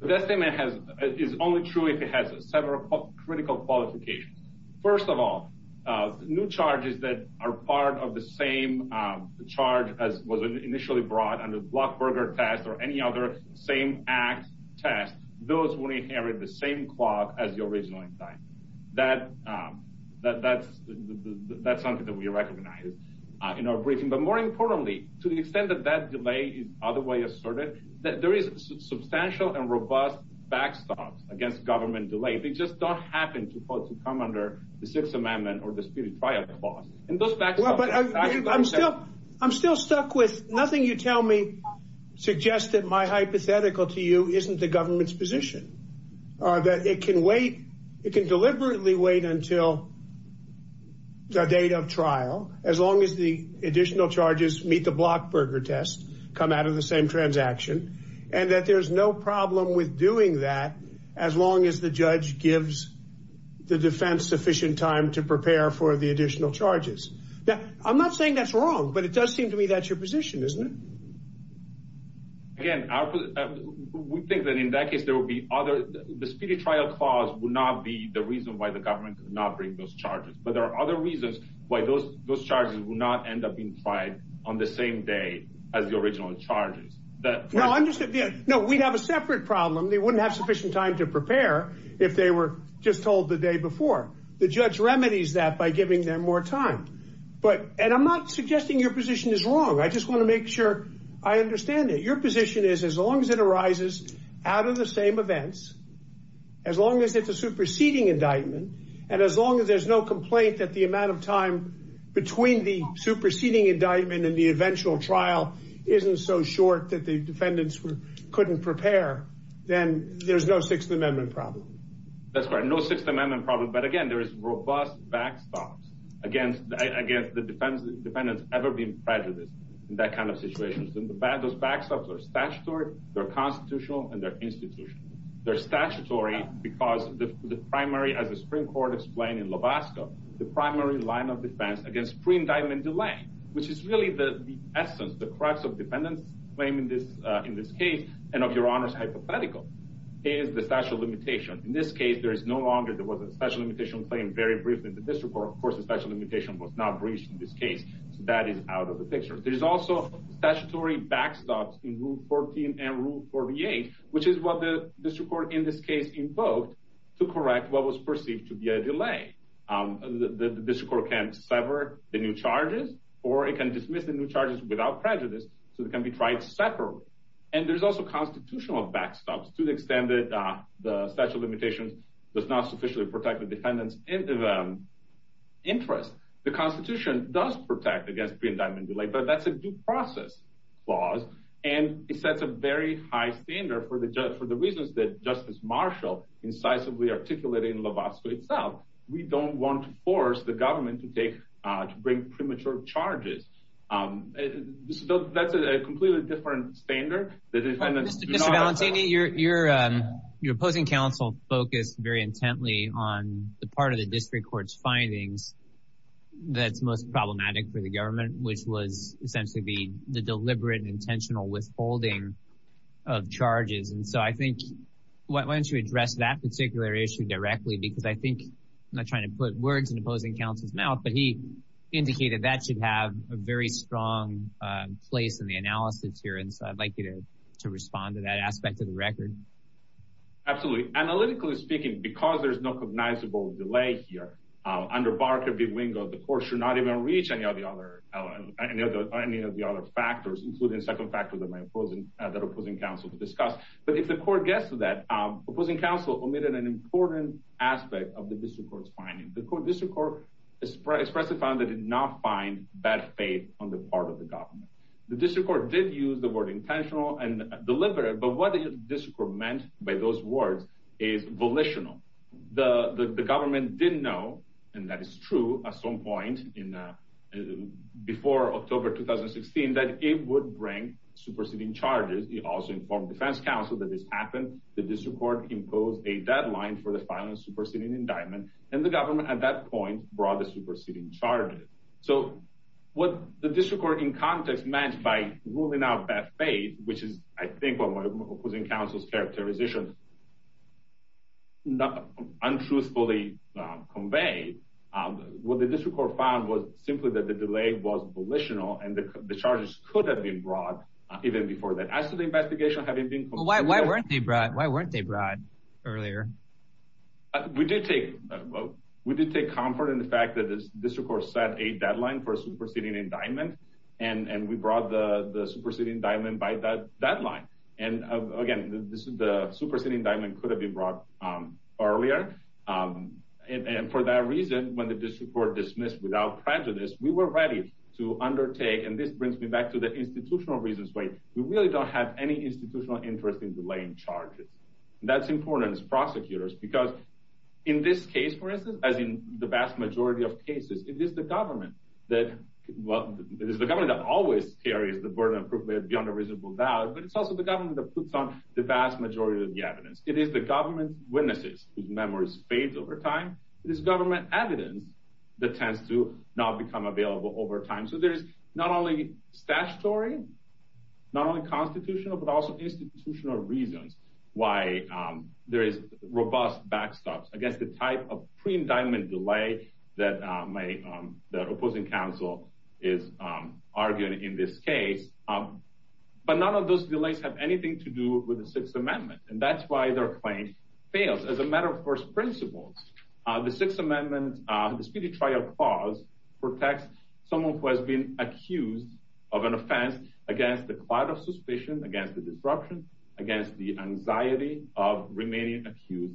That statement is only true if it has several critical qualifications. First of all, new charges that are part of the same charge as was initially brought under the Blockberger test or any other same act test, those will inherit the same clock as the original indictment. That's something that we recognize in our briefing, but more importantly, to the extent that that delay is otherwise asserted, that there is substantial and robust backstop against government delay. If it just doesn't happen to come under the Sixth Amendment or the speedy trial clause... I'm still stuck with nothing you tell me suggests that my hypothetical to you isn't the government's position, or that it can deliberately wait until the date of trial as long as the additional charges meet the Blockberger test come out of the same transaction, and that there's no problem with doing that as long as the judge gives the defense sufficient time to prepare for the additional charges. Now, I'm not saying that's wrong, but it does seem to me that's your position, isn't it? Again, we think that in that case, there will be other... the speedy trial clause will not be the reason why the government does not bring those charges, but there are other reasons why those charges will not end up inside on the same day as the original charges. No, I'm just... No, we have a separate problem. They wouldn't have sufficient time to prepare if they were just told the day before. The judge remedies that by giving them more time, but... And I'm not suggesting your position is wrong. I just want to make sure I understand it. Your position is as long as it arises out of the same events, as long as it's a superseding indictment, and as long as there's no complaint that the amount of time between the superseding indictment and the eventual trial isn't so short that the defendants couldn't prepare, then there's no Sixth Amendment problem. That's right. No Sixth Amendment problem. But again, there's robust backstops against the defendants ever being prejudiced in that kind of situation. Those backstops are statutory, they're constitutional, and they're institutional. They're statutory because the primary, as the Supreme Court explained in Lovasco, the primary line of defense against pre-indictment delay, which is really the essence, the crux of defendants' claim in this case, and of Your Honor's hypothetical, is the statute of limitations. In this case, there is no longer, there was a statute of limitations claim very briefly in the district court. Of course, the statute of limitations was not breached in this case, so that is out of the picture. There's also statutory backstops in Rule 14 and Rule 48, which is what the district court in this case invoked to correct what was perceived to be a delay. The district court can sever the new charges, or it can dismiss the new charges without prejudice, so they can be tried separately. And there's also constitutional backstops. To the extent that the statute of limitations does not sufficiently protect the defendants' interests, the Constitution does protect against pre-indictment delay, but that's a due process clause, and it sets a very high standard for the reasons that Justice Marshall incisively articulated in Lovasco itself. We don't want to force the government to bring premature charges. That's a completely different standard. Mr. Valentini, your opposing counsel focused very intently on the part of the district court's findings that's most problematic for the government, which was essentially the deliberate and intentional withholding of charges, and so I think, why don't you address that particular issue directly, because I think, I'm not trying to put words in opposing counsel's mouth, but he indicated that should have a very strong place in the analysis here, and so I'd like you to respond to that aspect of the record. Absolutely. Analytically speaking, because there's no cognizable delay here, under Barker v. Ringo, the court should not even reach any of the other factors, including the second factor that my opposing counsel discussed. But if the court gets to that, opposing counsel omitted an important aspect of the district court's findings. The district court expressly found that it did not find that faith on the part of the government. The district court did use the word intentional and deliberate, but what the district court meant by those words is volitional. The government didn't know, and that is true at some point before October 2016, that it would bring superseding charges. It also informed defense counsel that this happened. The district court imposed a superseding indictment, and the government at that point brought the superseding charges. So what the district court in context meant by ruling out bad faith, which is, I think, what my opposing counsel's characterization untruthfully conveyed, what the district court found was simply that the delay was volitional, and the charges could have been brought even before that. As to the investigation having been... Why weren't they brought earlier? We did take comfort in the fact that the district court set a deadline for superseding indictment, and we brought the superseding indictment by that deadline. And again, the superseding indictment could have been brought earlier. And for that reason, when the district court dismissed without prejudice, we were ready to undertake, and this brings me back to the institutional reasons way, we really don't have any institutional interest in delaying charges. That's important. It's because in this case, for instance, as in the vast majority of cases, it is the government that... Well, it is the government that always carries the burden of proof beyond a reasonable doubt, but it's also the government that puts on the vast majority of the evidence. It is the government's witnesses whose memories fade over time. It is government evidence that tends to not become available over time. So there's not only statutory, not only constitutional, but also institutional reasons why there is robust backstops against the type of pre-indictment delay that the opposing counsel is arguing in this case. But none of those delays have anything to do with the Sixth Amendment, and that's why their claim fails. As a matter of course principle, the Sixth Amendment, the speedy trial clause protects someone who has been accused of an anti-disruption against the anxiety of remaining accused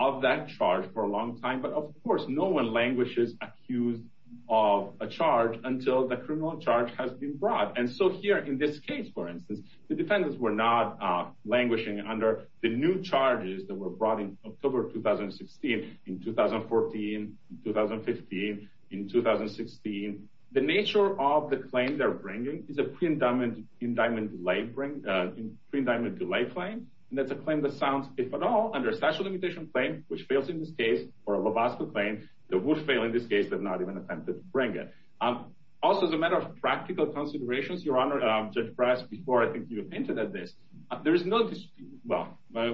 of that charge for a long time. But of course, no one languishes accused of a charge until the criminal charge has been brought. And so here in this case, for instance, the defendants were not languishing under the new charges that were brought in October of 2016, in 2014, in 2015, in 2016. The nature of the claim they're bringing is a pre-indictment delay claim, and that's a claim that sounds, if at all, under a special limitation claim, which fails in this case, or a robust claim, that would fail in this case, but not even attempted to bring it. Also, as a matter of practical considerations, Your Honor, Judge Brass, before I think you hinted at this, there is no dispute, well, I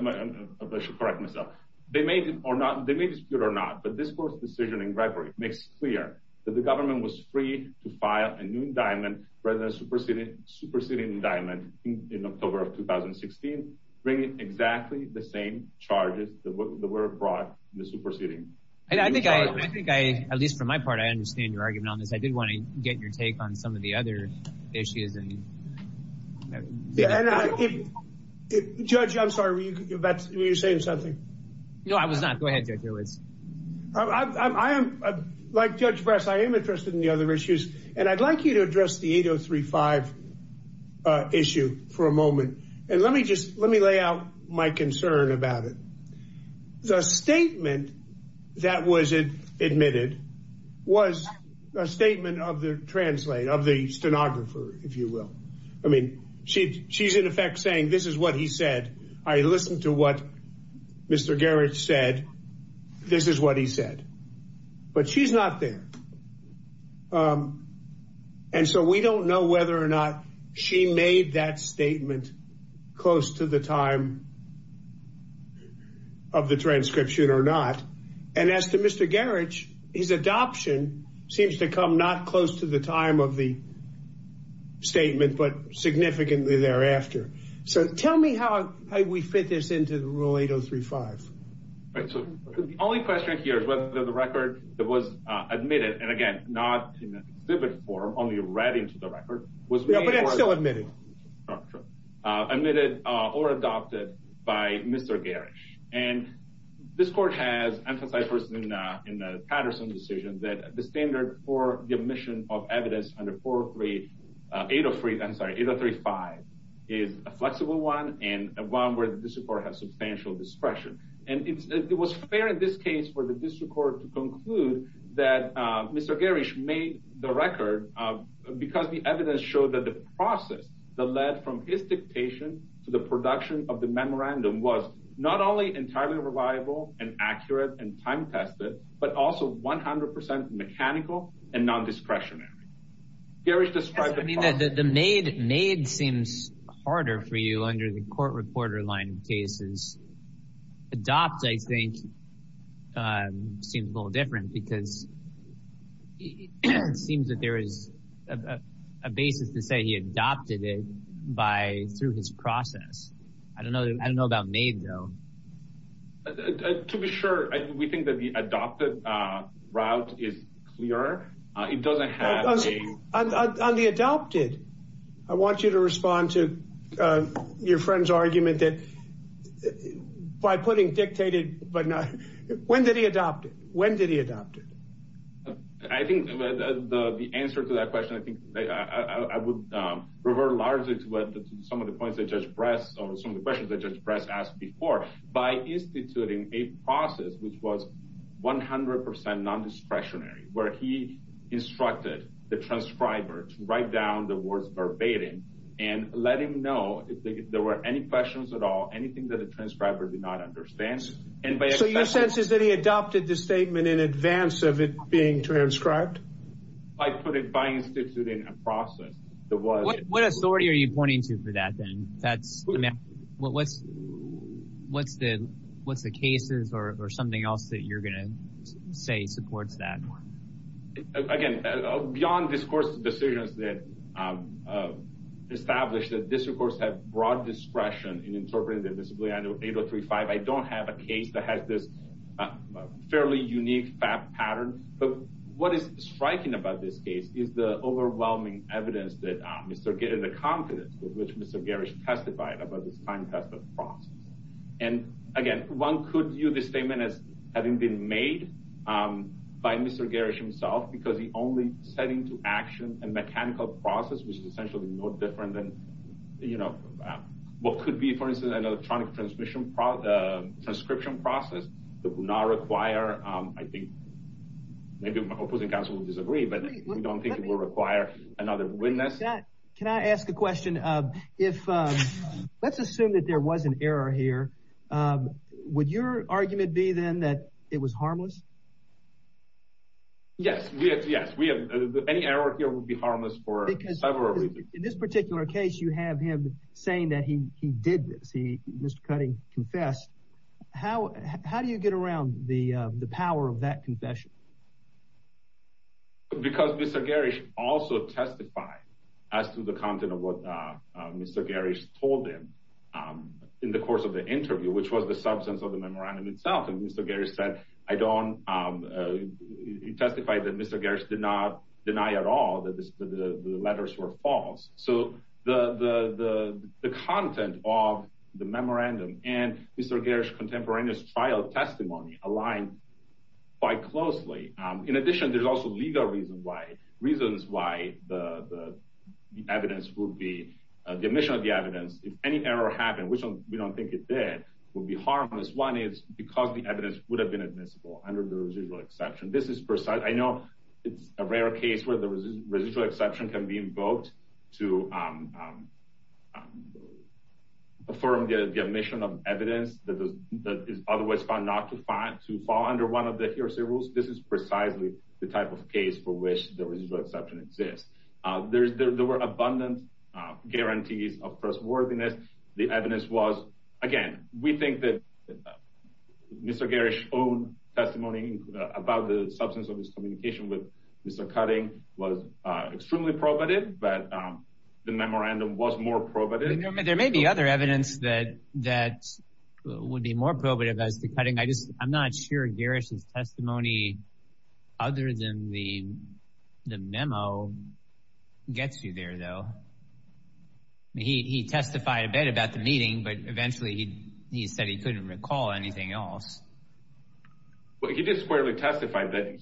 should correct myself, they may dispute or not, but this court's decision in record makes it clear that the government was free to file a new indictment rather than a superseding indictment in October of 2016, bringing exactly the same charges that were brought in the superseding. And I think I, at least for my part, I understand your argument on this. I did want to get your take on some of the other issues. And Judge, I'm sorry, were you saying something? No, I was not. Go ahead, Judge. I am, like Judge Brass, I am interested in the other issues, and I'd like you to address the 8035 issue for a moment. And let me just, let me lay out my concern about it. The statement that was admitted was a statement of the translator, of the stenographer, if you will. I mean, she's in effect saying, this is what he said. I listened to what Mr. Garrett said, this is what he said. But she's not there. And so we don't know whether or not she made that statement close to the time of the transcription or not. And as to Mr. Garrett, his adoption seems to come not close to the time of the statement, but significantly thereafter. So the only question here is whether the record that was admitted, and again, not in a vivid form, only read into the record, was made or adopted by Mr. Garrett. And this court has emphasized personally in the Patterson decision that the standard for the admission of evidence under 803, I'm sorry, 8035 is a flexible one, and one where the district court has substantial discretion. And it was fair in this case for the district court to conclude that Mr. Garrett made the record because the evidence showed that the process that led from his dictation to the production of the memorandum was not only entirely reliable and accurate and time-tested, but also 100% mechanical and non-discretionary. Garrett described the process- The made seems harder for you under the court reporter line of cases. Adopt, I think, seems a little different because it seems that there is a basis to say he adopted it through his process. I don't know about made, though. To be sure, we think that the adopted route is clearer. It doesn't have a- On the adopted, I want you to respond to your friend's argument that by putting dictated, but not, when did he adopt it? When did he adopt it? I think the answer to that question, I think I would revert largely to some of the points that asked before, by instituting a process which was 100% non-discretionary, where he instructed the transcriber to write down the words verbatim and let him know if there were any questions at all, anything that the transcriber did not understand, and by- So your sense is that he adopted the statement in advance of it being transcribed? I put it by instituting a process that was- What authority are you pointing to for that, then? What's the cases or something else that you're going to say supports that? Again, beyond, of course, the decisions that established that this, of course, had broad discretion in interpreting the disability under 8035, I don't have a case that has this fairly unique fact pattern, but what is striking about this case is the overwhelming evidence that Mr. Garish testified about this time. And again, one could view this statement as having been made by Mr. Garish himself, because the only setting to action and mechanical process was essentially no different than what could be, for instance, an electronic transcription process that would not require, I think, maybe my opposing counsel will disagree, but we don't think it will require another witness. Can I ask a question? Let's assume that there was an error here. Would your argument be, then, that it was harmless? Yes, yes. Any error here would be harmless for several reasons. In this particular case, you have him saying that he did this. Mr. Cutting confessed. How do you get around the power of that confession? Because Mr. Garish also testified as to the content of what Mr. Garish told him in the course of the interview, which was the substance of the memorandum itself. And Mr. Garish said, I don't, he testified that Mr. Garish did not deny at all that the letters were false. So the content of the memorandum and Mr. Garish's contemporaneous trial testimony align quite closely. In addition, there's also legal reasons why the evidence would be, the omission of the evidence, if any error happened, which we don't think it did, would be harmless. One is because the evidence would have been admissible under the residual exception. This is precise. I know it's a rare case where the residual exception can be invoked to perform the omission of evidence that is otherwise found not to fall under one of the heresy rules. This is precisely the type of case for which the residual exception exists. There were abundant guarantees of trustworthiness. The evidence was, again, we think that Mr. Garish's own testimony about the substance of his communication with Mr. Cutting was extremely probative, but the memorandum was more probative. There may be other evidence that would be more probative as to Cutting. I'm not sure Garish's testimony, other than the memo, gets you there though. He testified a bit about the meeting, but eventually he said he couldn't recall anything else. Well, he did squarely testify that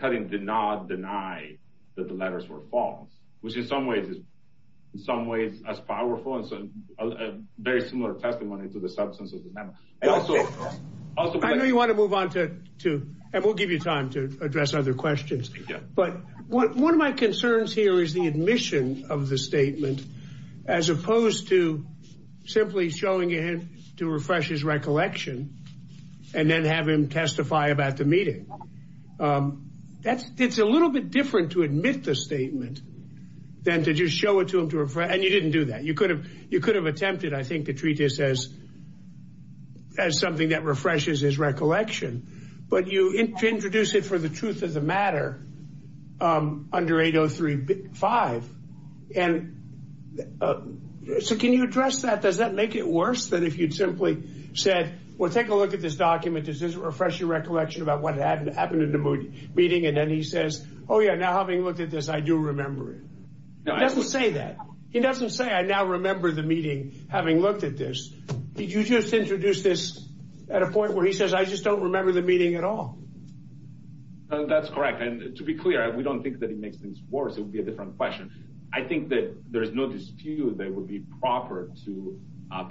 Cutting did not deny that the letters were false, which in some ways is as powerful as a very similar testimony to the substance of the memo. I know you want to move on to, and we'll give you time to address other questions, but one of my concerns here is the admission of the statement, as opposed to simply showing it to refresh his recollection and then have him testify about the meeting. It's a little bit different to admit the statement than to just show it to him, and you didn't do that. You could have attempted, I think, to treat this as something that refreshes his recollection, but you introduce it for the truth of the matter under 803.5. Can you address that? Does that make it worse than if you'd simply said, well, take a look at this document. This is to refresh your recollection about what happened in the meeting, and then he says, oh, yeah, now having looked at this, I do remember it. He doesn't say that. He doesn't say, I now remember the meeting, having looked at this. You just introduced this at a point where he says, I just don't remember the meeting at all. That's correct, and to be clear, we don't think that it makes things worse. It would be a different question. I think that there is no dispute that it would be proper to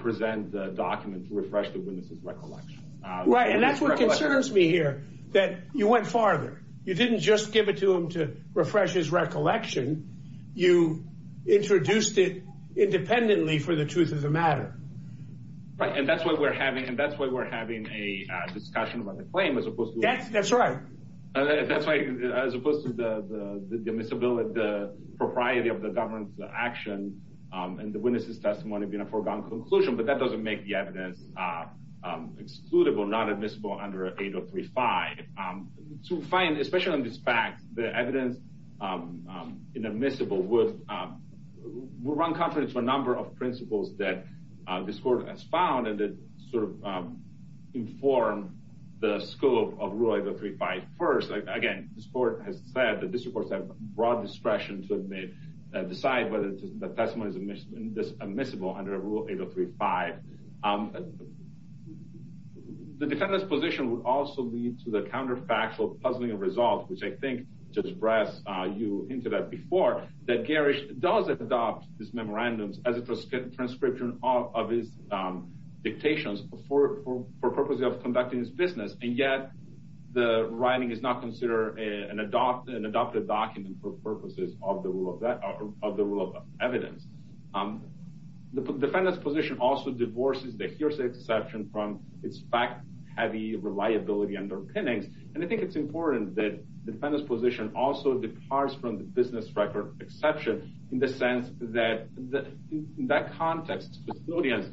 present the document to refresh the witness's recollection. Right, and that's what concerns me here, that you went farther. You didn't just give it to him to refresh his recollection. You introduced it independently for the truth of the matter. Right, and that's why we're having a discussion about the claim, as opposed to... That's right. That's right, as opposed to the admissibility, the propriety of the government's action, and the witness's testimony being a foregone conclusion, but that doesn't make the evidence excludable, non-admissible under 8035. So we find, especially on this fact, the evidence inadmissible will run confidence for a number of principles that this court has found, and that inform the scope of Rule 8035. First, again, this court has said that this court has a broad discretion to decide whether the testimony is admissible under Rule 8035. The defendant's position would also lead to the counterfactual puzzling of results, which I think, Judge Brass, you hinted at before, that Garish does adopt this memorandum as a transcription of his dictations for the purpose of conducting his business, and yet the writing is not considered an adopted document for purposes of the rule of evidence. The defendant's position also divorces the hearsay perception from its fact-heavy reliability underpinnings, and I think it's important that the defendant's position also departs from the business record exception in the sense that, in that context, custodians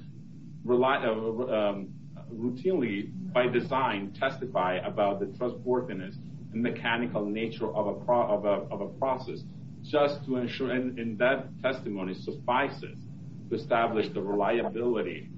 routinely, by design, testify about the trustworthiness and mechanical nature of a process, just to ensure, and that testimony suffices to establish the reliability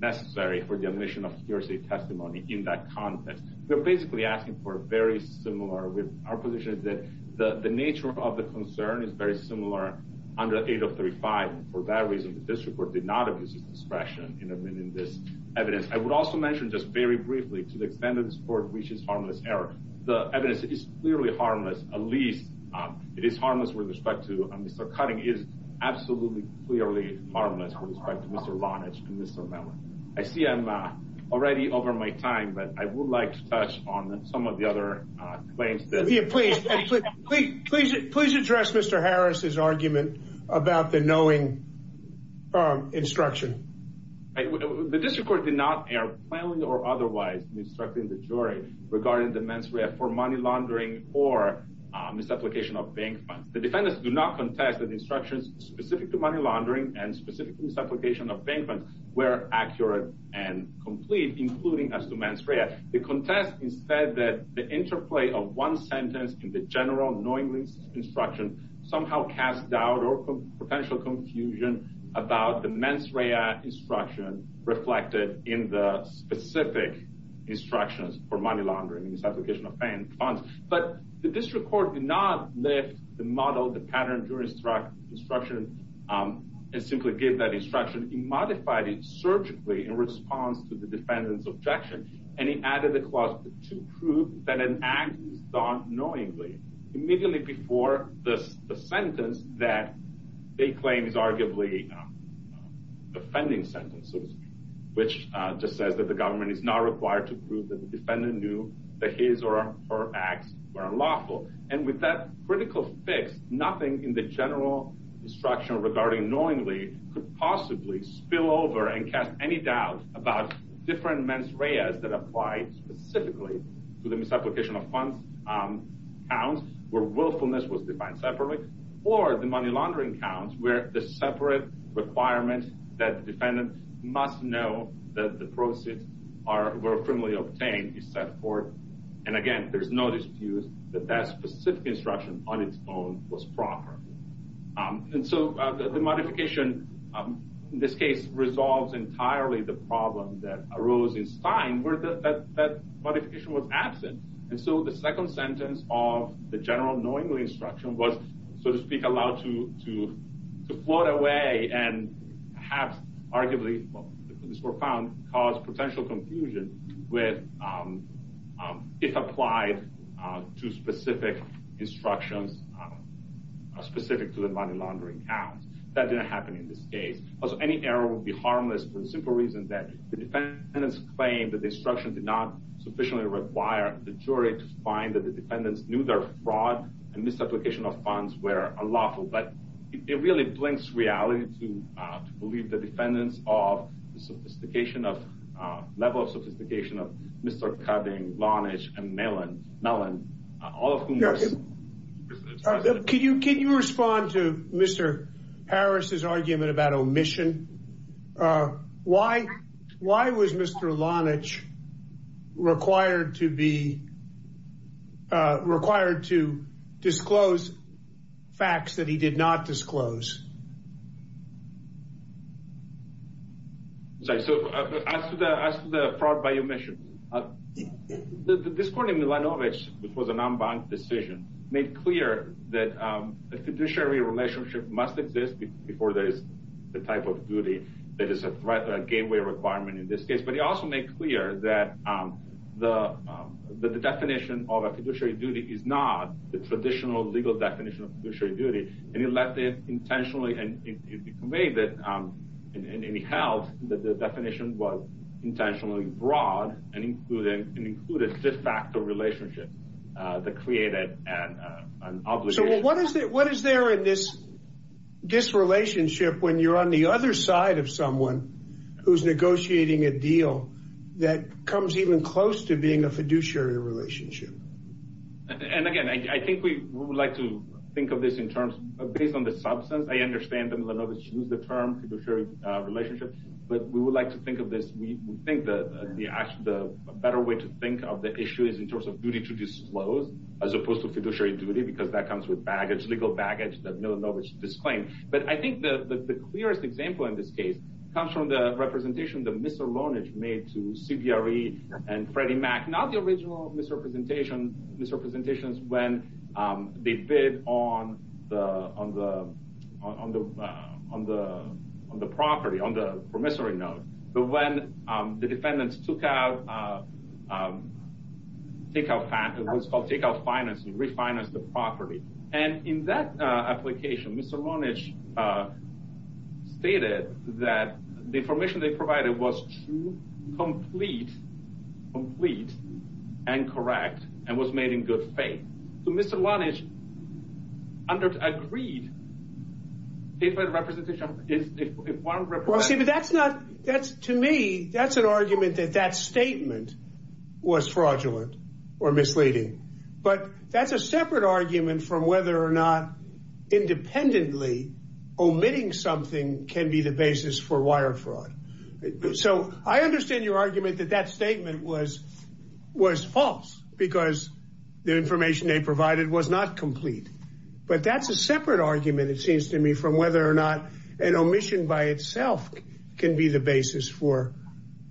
necessary for the admission of hearsay testimony in that context. They're basically asking for a very similar, our position is that the nature of concern is very similar under 8035, and for that reason, this report did not abuse discretion in this evidence. I would also mention just very briefly, to the extent that this court reaches harmless error, the evidence is clearly harmless, at least it is harmless with respect to Mr. Cutting, it is absolutely clearly harmless with respect to Mr. Vonage and Mr. Miller. I see I'm already over my time, but I would like to touch on some of the other claims. Please address Mr. Harris's argument about the knowing instruction. The district court did not err, plainly or otherwise, in instructing the jury regarding the mens rea for money laundering or misapplication of bank funds. The defendants do not contest that instructions specific to money laundering and specific to misapplication of bank funds were accurate and complete, including as to mens rea. The contest is said that the interplay of one sentence in the general knowingly instruction somehow cast doubt or potential confusion about the mens rea instruction reflected in the specific instructions for money laundering and misapplication of bank funds. But the district court did not lift the model, the pattern during instruction and simply give that instruction. He modified it surgically in response to the defendant's objection and he added a clause to prove that an act was done knowingly immediately before the sentence that they claim is arguably defending sentences, which just says that the government is not required to prove that the defendant knew that his or her acts were unlawful. And with that critical fix, nothing in the general instruction regarding knowingly could possibly spill over and cast any doubt about different mens reas that applied specifically to the misapplication of funds counts where willfulness was defined separately or the money laundering counts where the separate requirement that the defendant must know that the proceeds were criminally obtained is set forth. And again, there's no dispute that that specific instruction on its own was proper. And so the modification in this case resolves entirely the problem that arose in time where that modification was absent. And so the second sentence of the general knowingly instruction was, so to speak, allowed to float away and have arguably caused potential confusion with if applied to specific instructions specific to the money laundering counts. That didn't happen in this case. Any error would be harmless for the simple reason that the defendant's claim that the instruction did not sufficiently require the jury to find that the defendant knew their fraud and misapplication of funds were unlawful. But it really blinks reality to believe the defendants of the level of sophistication of Mr. Cudding, Lonich, and Mellon, all of whom... Could you respond to Mr. Harris's argument about omission? Why was Mr. Lonich required to disclose facts that he did not disclose? So as to the fraud by omission, this court in Milanovich, which was a non-bank decision, made clear that the fiduciary relationship must exist before there is the type of duty that is a gateway requirement in this case. But he also made clear that the definition of a fiduciary duty is not the traditional legal definition of fiduciary duty. And he left it intentionally, and he made it, and he held that the definition was intentionally broad and included a six-factor relationship that created an obligation. What is there in this relationship when you're on the other side of someone who's negotiating a deal that comes even close to being a fiduciary relationship? And again, I think we would like to think of this in terms of, based on the substance, I understand that Milanovich used the term fiduciary relationship, but we would like to think of this, we think that the better way to think of the issue is in terms of duty to disclose as opposed to fiduciary duty, because that comes with baggage, legal baggage that Milanovich disclaimed. But I think the clearest example in this case comes from the representation that Mr. Lonage made to CBRE and Freddie Mac, not the original misrepresentations when they bid on the promissory note, but when the defendants took out financing, refinanced the property. And in that application, Mr. Lonage stated that the information they provided was true, complete, and correct, and was made in good faith. So Mr. Lonage agreed with the representation. To me, that's an argument that that statement was fraudulent or misleading. But that's a separate argument from whether or not independently omitting something can be the basis for wire fraud. So I understand your argument that that statement was false because the information they provided was not complete. But that's a separate argument, it seems to me, from whether or not an omission by itself can be the basis for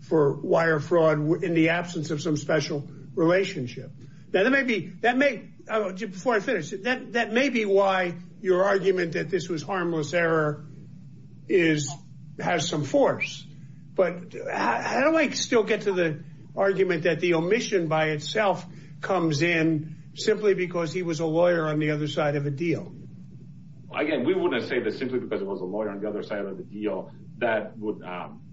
wire fraud in the absence of some special relationship. That may be why your argument that this was harmless error has some force. But I don't still get to the argument that the omission by itself comes in simply because he was a lawyer on the other side of a deal. Again, we wouldn't say that simply because it was a lawyer on the other side of the deal that would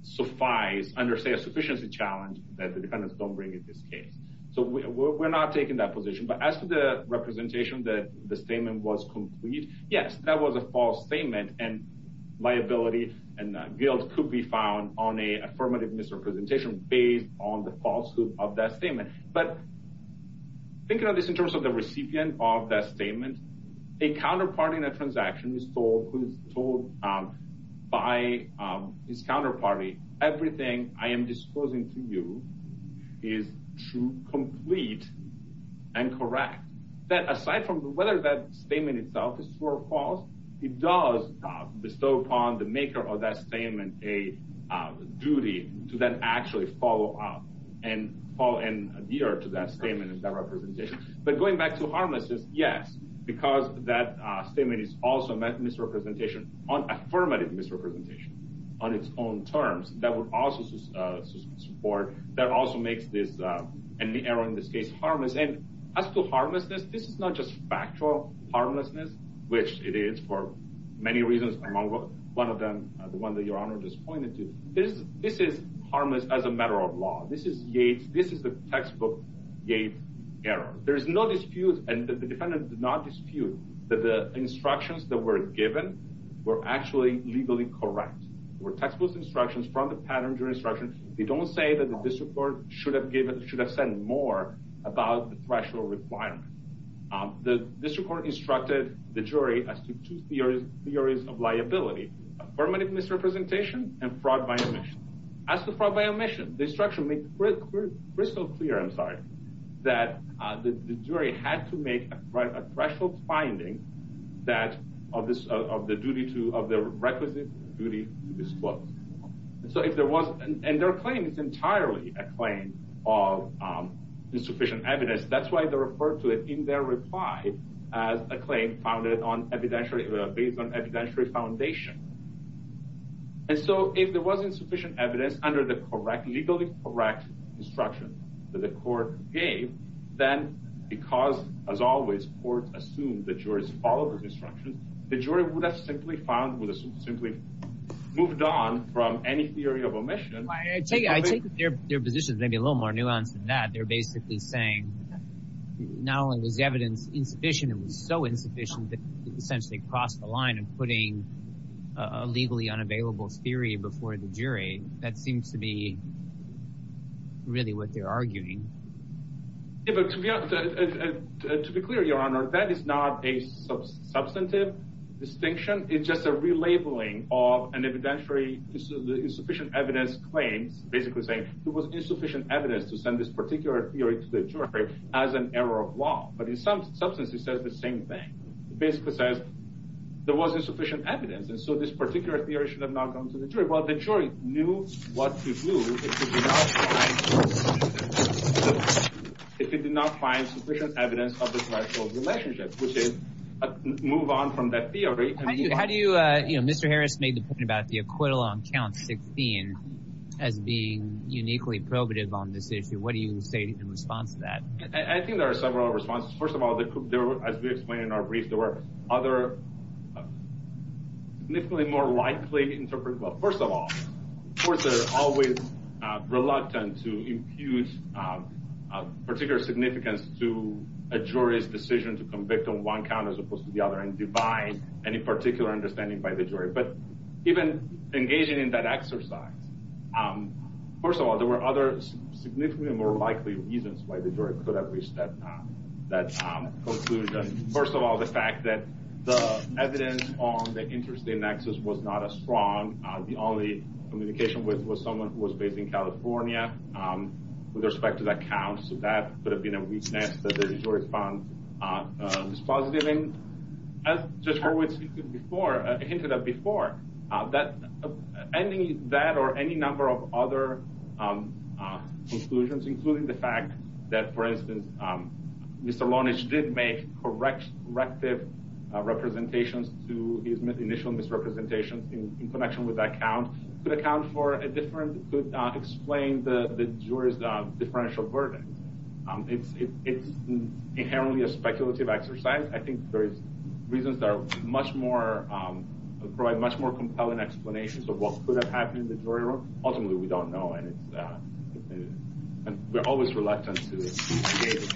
suffice, understand a sufficiency challenge that the defendants don't bring in this case. So we're not taking that position. But as to the representation that the statement was complete, yes, that was a false statement. And liability and guilt could be found on a affirmative misrepresentation based on the falsehood of that statement. But thinking of this in terms of the recipient of that statement, a counterpart in a transaction by his counterparty, everything I am disposing to you is true, complete, and correct. That aside from whether that statement itself is true or false, it does bestow upon the maker of that statement a duty to then actually follow up and adhere to that statement and that representation. But going back to harmlessness, yes, because that statement is also a misrepresentation, an affirmative misrepresentation on its own terms, that would also support, that also makes this error in this case harmless. And as to harmlessness, this is not just factual harmlessness, which it is for many reasons, among one of them, the one that Your Honor just pointed to. This is harmless as a matter of law. This is the textbook Yates error. There's no dispute, and the defendants did not dispute, that the instructions that were given were actually legally correct. They were textbook instructions from the patent jury instruction. They don't say that the district court should have said more about the threshold requirement. The district court instructed the jury as to two theories of liability, affirmative misrepresentation and fraud by omission. As to fraud by omission, the instruction makes crystal clear, I'm sorry, that the jury had to make a threshold finding of the requisite duty to disclose. And their claim is entirely a claim of insufficient evidence. That's why they refer to it in their reply as a claim based on evidentiary foundation. And so if there wasn't sufficient evidence under the legally correct instruction that the court gave, then because, as always, courts assume the jurors followed the instruction, the jury would have simply found, would have simply moved on from any theory of omission. I think their position is maybe a little more nuanced than that. They're basically saying not only is evidence insufficient, so insufficient that it essentially crossed the line of putting a legally unavailable theory before the jury. That seems to be really what they're arguing. To be clear, your honor, that is not a substantive distinction. It's just a relabeling of an evidentiary insufficient evidence claim, basically saying there was insufficient evidence to send this particular theory to the jury as an error of law. But in some substance, it says the same thing. It basically says there wasn't sufficient evidence, and so this particular theory should have not gone to the jury. Well, the jury knew what to do if it did not find sufficient evidence of this actual relationship, which is move on from that theory. How do you, you know, Mr. Harris made the point about the acquittal on count 16 as being uniquely probative on this issue. What do you say in response to that? I think there are several responses. First of all, as we explained in our brief, there were other, definitely more widely interpreted, well, first of all, courts are always reluctant to divide any particular understanding by the jury. But even engaging in that exercise, first of all, there were other significantly more likely reasons why the jury could have reached that conclusion. First of all, the fact that the evidence on the interest in access was not as strong. The only communication was someone who was based in California with respect to the accounts, so that could have been a weakness that the jury found this positive in. As Joshua had hinted at before, that or any number of other conclusions, including the fact that, for instance, Mr. Lonish did make corrective representations to his initial misrepresentation in connection with that account, could account for a different, could explain the jury's differential burden. It's inherently a speculative exercise. I think there are reasons that are much more, provide much more compelling explanations of what could have happened in the jury room. Ultimately, we don't know, and we're always reluctant to engage.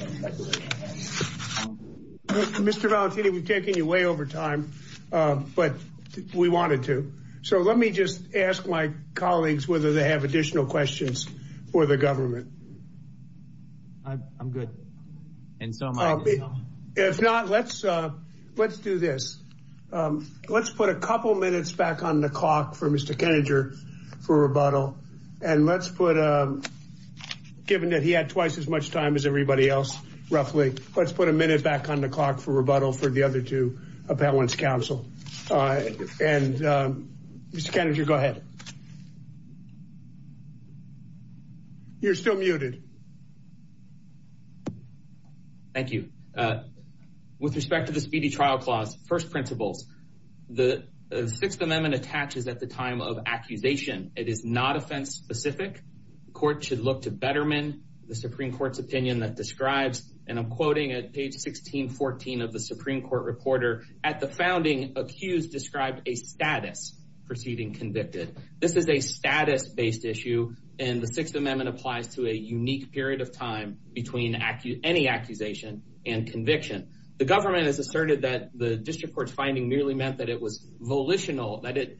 Mr. Valentini, we've taken you way over time, but we wanted to. So let me just ask my colleagues whether they have additional questions for the government. I'm good. If not, let's do this. Let's put a couple minutes back on the clock for Mr. Keninger for rebuttal, and let's put, given that he had twice as much time as everybody else, roughly, let's put a minute back on the clock for rebuttal for the other two appellants counsel. Mr. Keninger, go ahead. You're still muted. Thank you. With respect to the Speedy Trial Clause, first principles, the Sixth Amendment attaches at the time of accusation. It is not offense specific. The court should look to Betterman, the Supreme Court's opinion that describes, and I'm quoting at page 1614 of the Supreme Court reporter, at the founding, accused describes a status preceding convicted. This is a status-based issue, and the Sixth Amendment applies to a unique period of time between any accusation and conviction. The government has asserted that the district court's finding merely meant that it was volitional, that it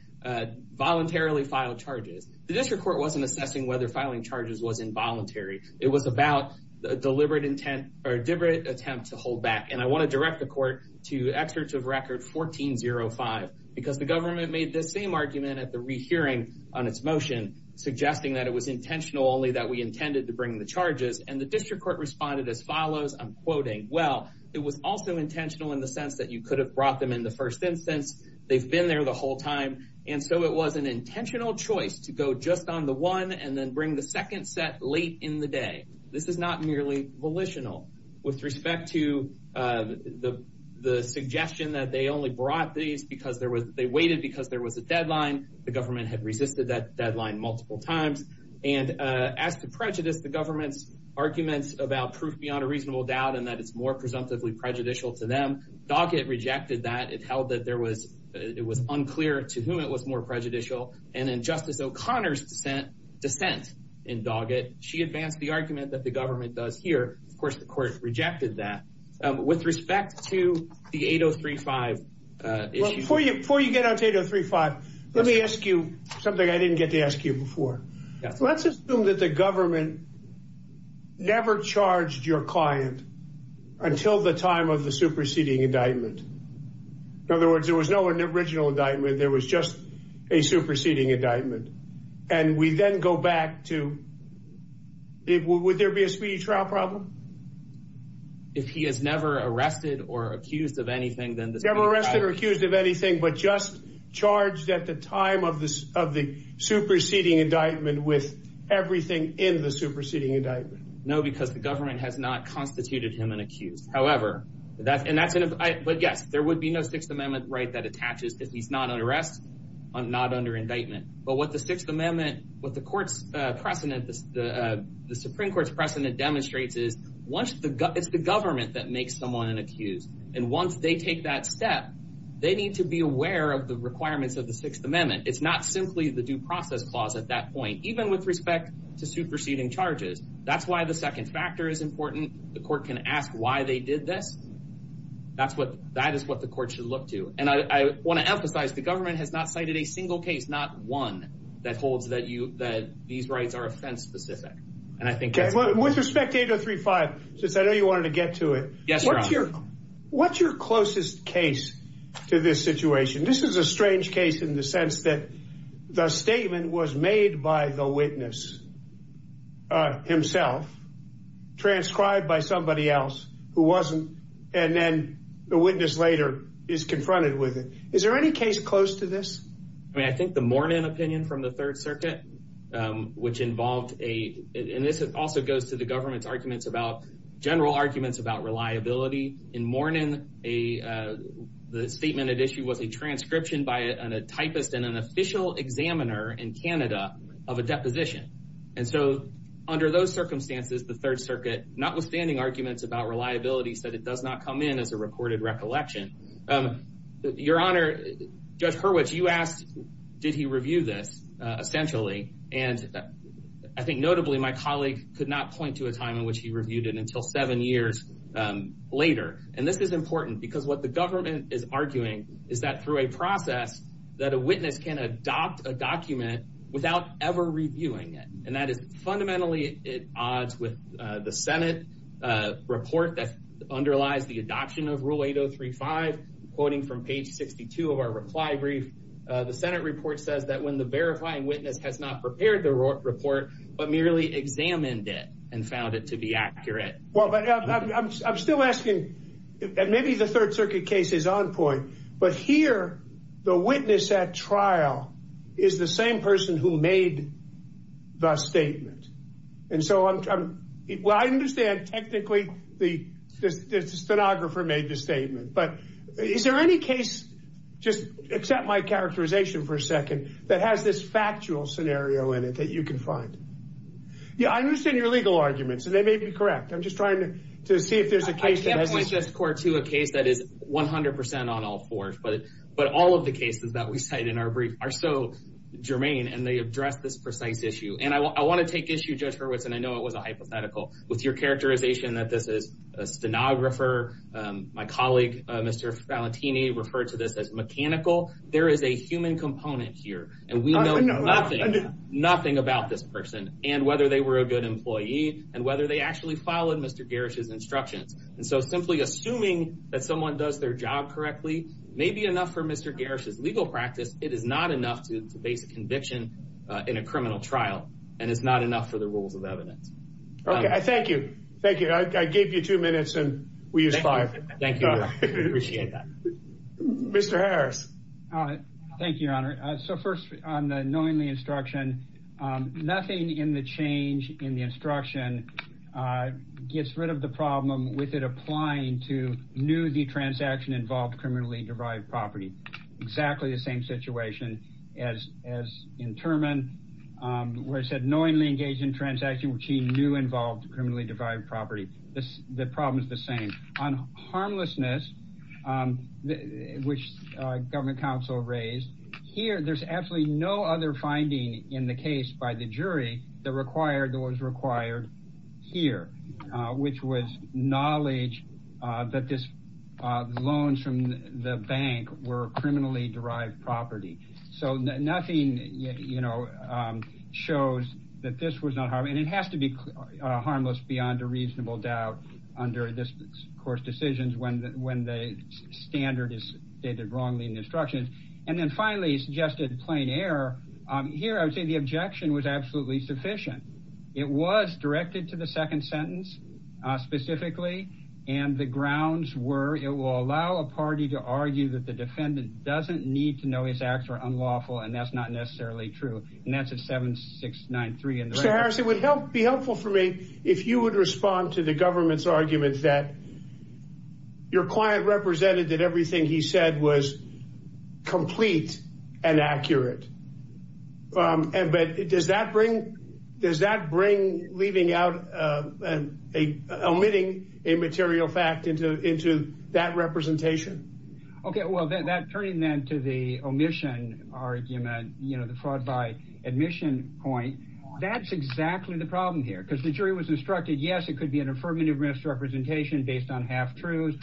voluntarily filed charges. The district court wasn't assessing whether filing charges was involuntary. It was about deliberate intent or deliberate attempt to hold back. And I want to direct the court to excerpts of record 1405, because the government made the same argument at the rehearing on its motion, suggesting that it was intentional, only that we intended to bring the charges. And the district court responded as follows, I'm quoting, well, it was also intentional in the sense that you could have brought them in the first instance. They've been there the whole time, and so it was an intentional choice to go just on the one, and then bring the second set late in the day. This is not merely volitional. With respect to the suggestion that they only brought these because they waited because there was a deadline, the government had resisted that deadline multiple times. And as to prejudice, the government's arguments about proof beyond a reasonable doubt and that it's more presumptively prejudicial to them, Doggett rejected that. It held that it was unclear to whom it was more prejudicial. And in Justice O'Connor's dissent in Doggett, she advanced the argument that the government does here. Of course, the court rejected that. With respect to the 8035. Before you get on to 8035, let me ask you something I didn't get to ask you before. Let's assume that the government never charged your client until the time of the superseding indictment. In other words, there was no original indictment. There was just a superseding indictment. And we then go back to, would there be a speedy trial problem? If he is never arrested or accused of anything, then the never arrested or accused of anything, but just charged at the time of this of the superseding indictment with everything in the superseding indictment? No, because the government has not constituted him an accused. However, that and that's it. But yeah, there would be no Sixth Amendment right that attaches if he's not arrested, not under indictment. But what the Sixth Amendment, what the Supreme Court's precedent demonstrates is, it's the government that makes someone an accused. And once they take that step, they need to be aware of the requirements of the Sixth Amendment. It's not simply the due process clause at that point, even with respect to superseding charges. That's why the second factor is important. The court can ask why they did this. That is what the court should look to. And I want to emphasize the government has not cited a single case, not one that holds that these rights are offense specific. With respect to 8035, since I know you wanted to get to it, what's your closest case to this situation? This is a strange case in the sense that the statement was made by the witness himself, transcribed by somebody else, who wasn't. And then the witness later is confronted with it. Is there any case close to this? I mean, I think the Mornin opinion from the Third Circuit, which involved a, and this also goes to the government's arguments about general arguments about reliability. In Mornin, the statement had issued with a transcription by a typist and an official examiner in Canada of a deposition. And so under those circumstances, the Third Circuit, notwithstanding arguments about reliability, said it does not come in as a recorded recollection. Your Honor, Judge Hurwitz, you asked, did he review this essentially? And I think notably my colleague could not point to a time in which he reviewed it until seven years later. And this is important because what the government is arguing is that through a process that a witness can adopt a document without ever reviewing it. And that is fundamentally at odds with the Senate report that underlies the adoption of Rule 8035. Quoting from page 62 of our reply brief, the Senate report says that when the verifying witness has not prepared the report, but merely examined it and found it to be accurate. Well, I'm still asking, maybe the Third Circuit case is on point, but here the witness at trial is the same person who made the statement. And so what I understand technically the stenographer made the statement, but is there any case, just accept my characterization for a second, that has this factual scenario in it that you can find? Yeah, I understand your legal arguments, and they may be correct. I'm just trying to see if there's a case. I can't point to a case that 100% on all fours, but all of the cases that we cite in our brief are so germane and they address this precise issue. And I want to take issue, Judge Hurwitz, and I know it was a hypothetical, with your characterization that this is a stenographer. My colleague, Mr. Valentini, referred to this as mechanical. There is a human component here, and we know nothing about this person and whether they were a good employee and whether they actually followed Mr. Garish's job correctly may be enough for Mr. Garish's legal practice. It is not enough to debate the conviction in a criminal trial, and it's not enough for the rules of evidence. Okay, thank you. Thank you. I gave you two minutes and we used five. Thank you. I appreciate that. Mr. Harris. Thank you, Your Honor. So first, on the knowing the instruction, nothing in the change in the transaction involved criminally-derived property. Exactly the same situation as in Terman, where it said knowingly engaged in transaction, which he knew involved criminally-derived property. The problem is the same. On harmlessness, which government counsel raised, here there's absolutely no other finding in the case by the jury that was required here, which was knowledge that this loan from the bank were criminally-derived property. So nothing, you know, shows that this was not, and it has to be harmless beyond a reasonable doubt under this, of course, decisions when the standard is stated wrongly in the instruction. And then, finally, he suggested plain error. Here, I would say the objection was absolutely sufficient. It was directed to the second sentence specifically, and the grounds were it will allow a party to argue that the defendant doesn't need to know his acts are unlawful, and that's not necessarily true. And that's a 7693. Mr. Harris, it would be helpful for me if you would respond to the government's argument that your client represented that everything he leaving out, omitting a material fact into that representation. Okay, well, that turning then to the omission argument, you know, the fraud by admission point, that's exactly the problem here. Because the jury was instructed, yes, it could be an affirmative misrepresentation based on half-truths,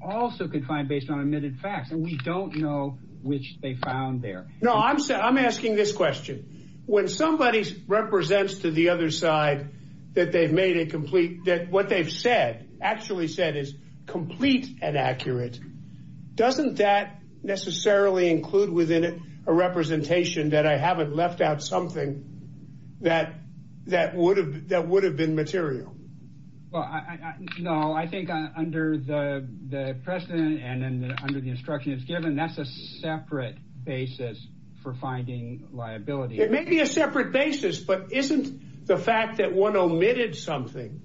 also confined based on omitted facts, and we don't know which they found there. No, I'm asking this question. When somebody represents to the other side that they've made it complete, that what they've said, actually said is complete and accurate, doesn't that necessarily include within it a representation that I haven't left out something that would have been material? Well, no, I think under the precedent and under the instruction that's given, that's a separate basis for finding liability. It may be a separate basis, but isn't the fact that one omitted something,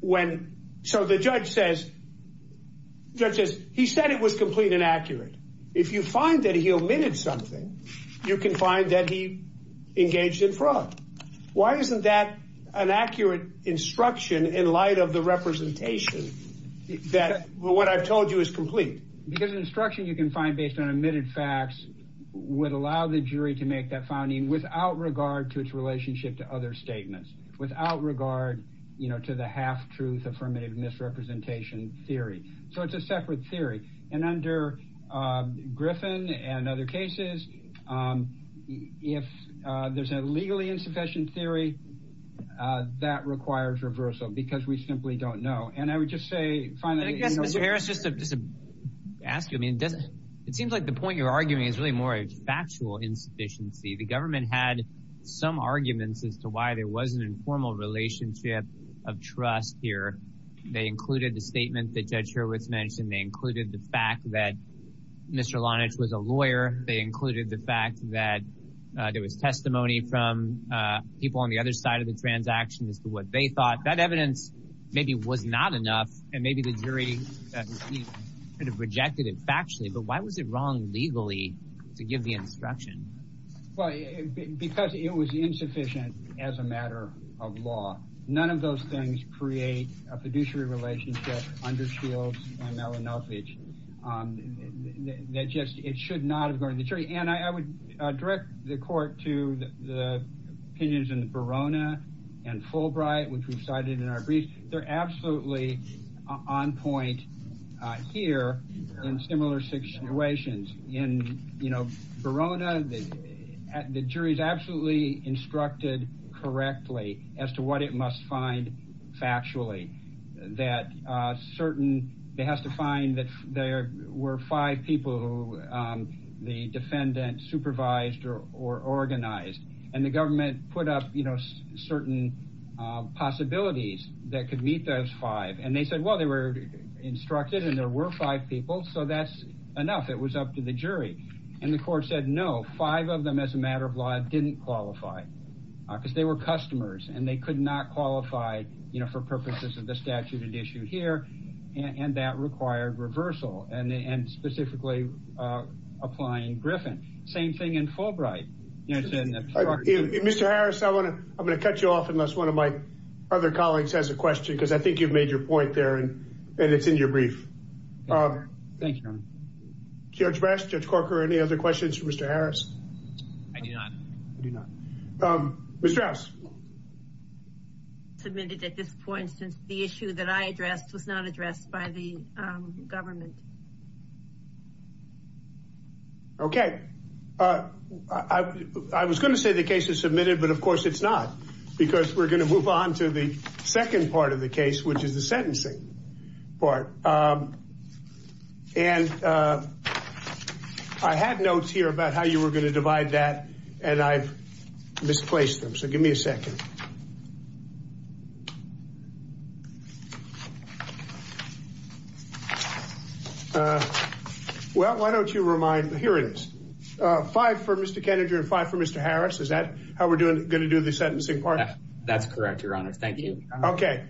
when, so the judge says, he said it was complete and accurate. If you find that he omitted something, you can find that he engaged in fraud. Why isn't that an accurate instruction in light of the Because an instruction you can find based on omitted facts would allow the jury to make that finding without regard to its relationship to other statements, without regard to the half-truth affirmative misrepresentation theory. So it's a separate theory. And under Griffin and other cases, if there's a legally insufficient theory, that requires reversal because we simply don't know. And I would just say, it seems like the point you're arguing is really more a factual insufficiency. The government had some arguments as to why there was an informal relationship of trust here. They included the statements that Judge Hurwitz mentioned. They included the fact that Mr. Lonitz was a lawyer. They included the fact that there was testimony from people on the other side of the transaction as to what they thought. That evidence maybe was not enough, and maybe the jury could have rejected it factually. But why was it wrong legally to give the instruction? Well, because it was insufficient as a matter of law. None of those things create a fiduciary relationship under Shields and Mellon Elpage that just, it should not have gone to the jury. And I would direct the court to the opinions in Verona and Fulbright, which we cited in our briefs. They're absolutely on point here in similar situations. In Verona, the jury is absolutely instructed correctly as to what it must find factually. That certain, it has to find that there were five people who the defendant supervised or organized. And the government put up certain possibilities that could meet those five. And they said, well, they were instructed and there were five people, so that's enough. It was up to the jury. And the court said, no, five of them as a matter of law didn't qualify because they were customers and they could not qualify for purposes of the statute of the issue here. And that required reversal and specifically applying Griffin. Same thing in Fulbright. Mr. Harris, I want to, I'm going to cut you off unless one of my other colleagues has a question, because I think you've made your point there and it's in your brief. Thank you. Judge Rask, Judge Corker, any other questions for Mr. Harris? Mr. Harris. Submitted at this point since the issue that I addressed was not addressed by the government. Okay. I was going to say the case is submitted, but of course it's not because we're going to move on to the second part of the case, which is the sentencing part. And I had notes here about how you were going to divide that and I misplaced them. So give me a second. Well, why don't you remind the hearings? Five for Mr. Kennedy and five for Mr. Harris. Is that how we're doing? Going to do the sentencing part? That's correct. Your honor. Thank you. Okay.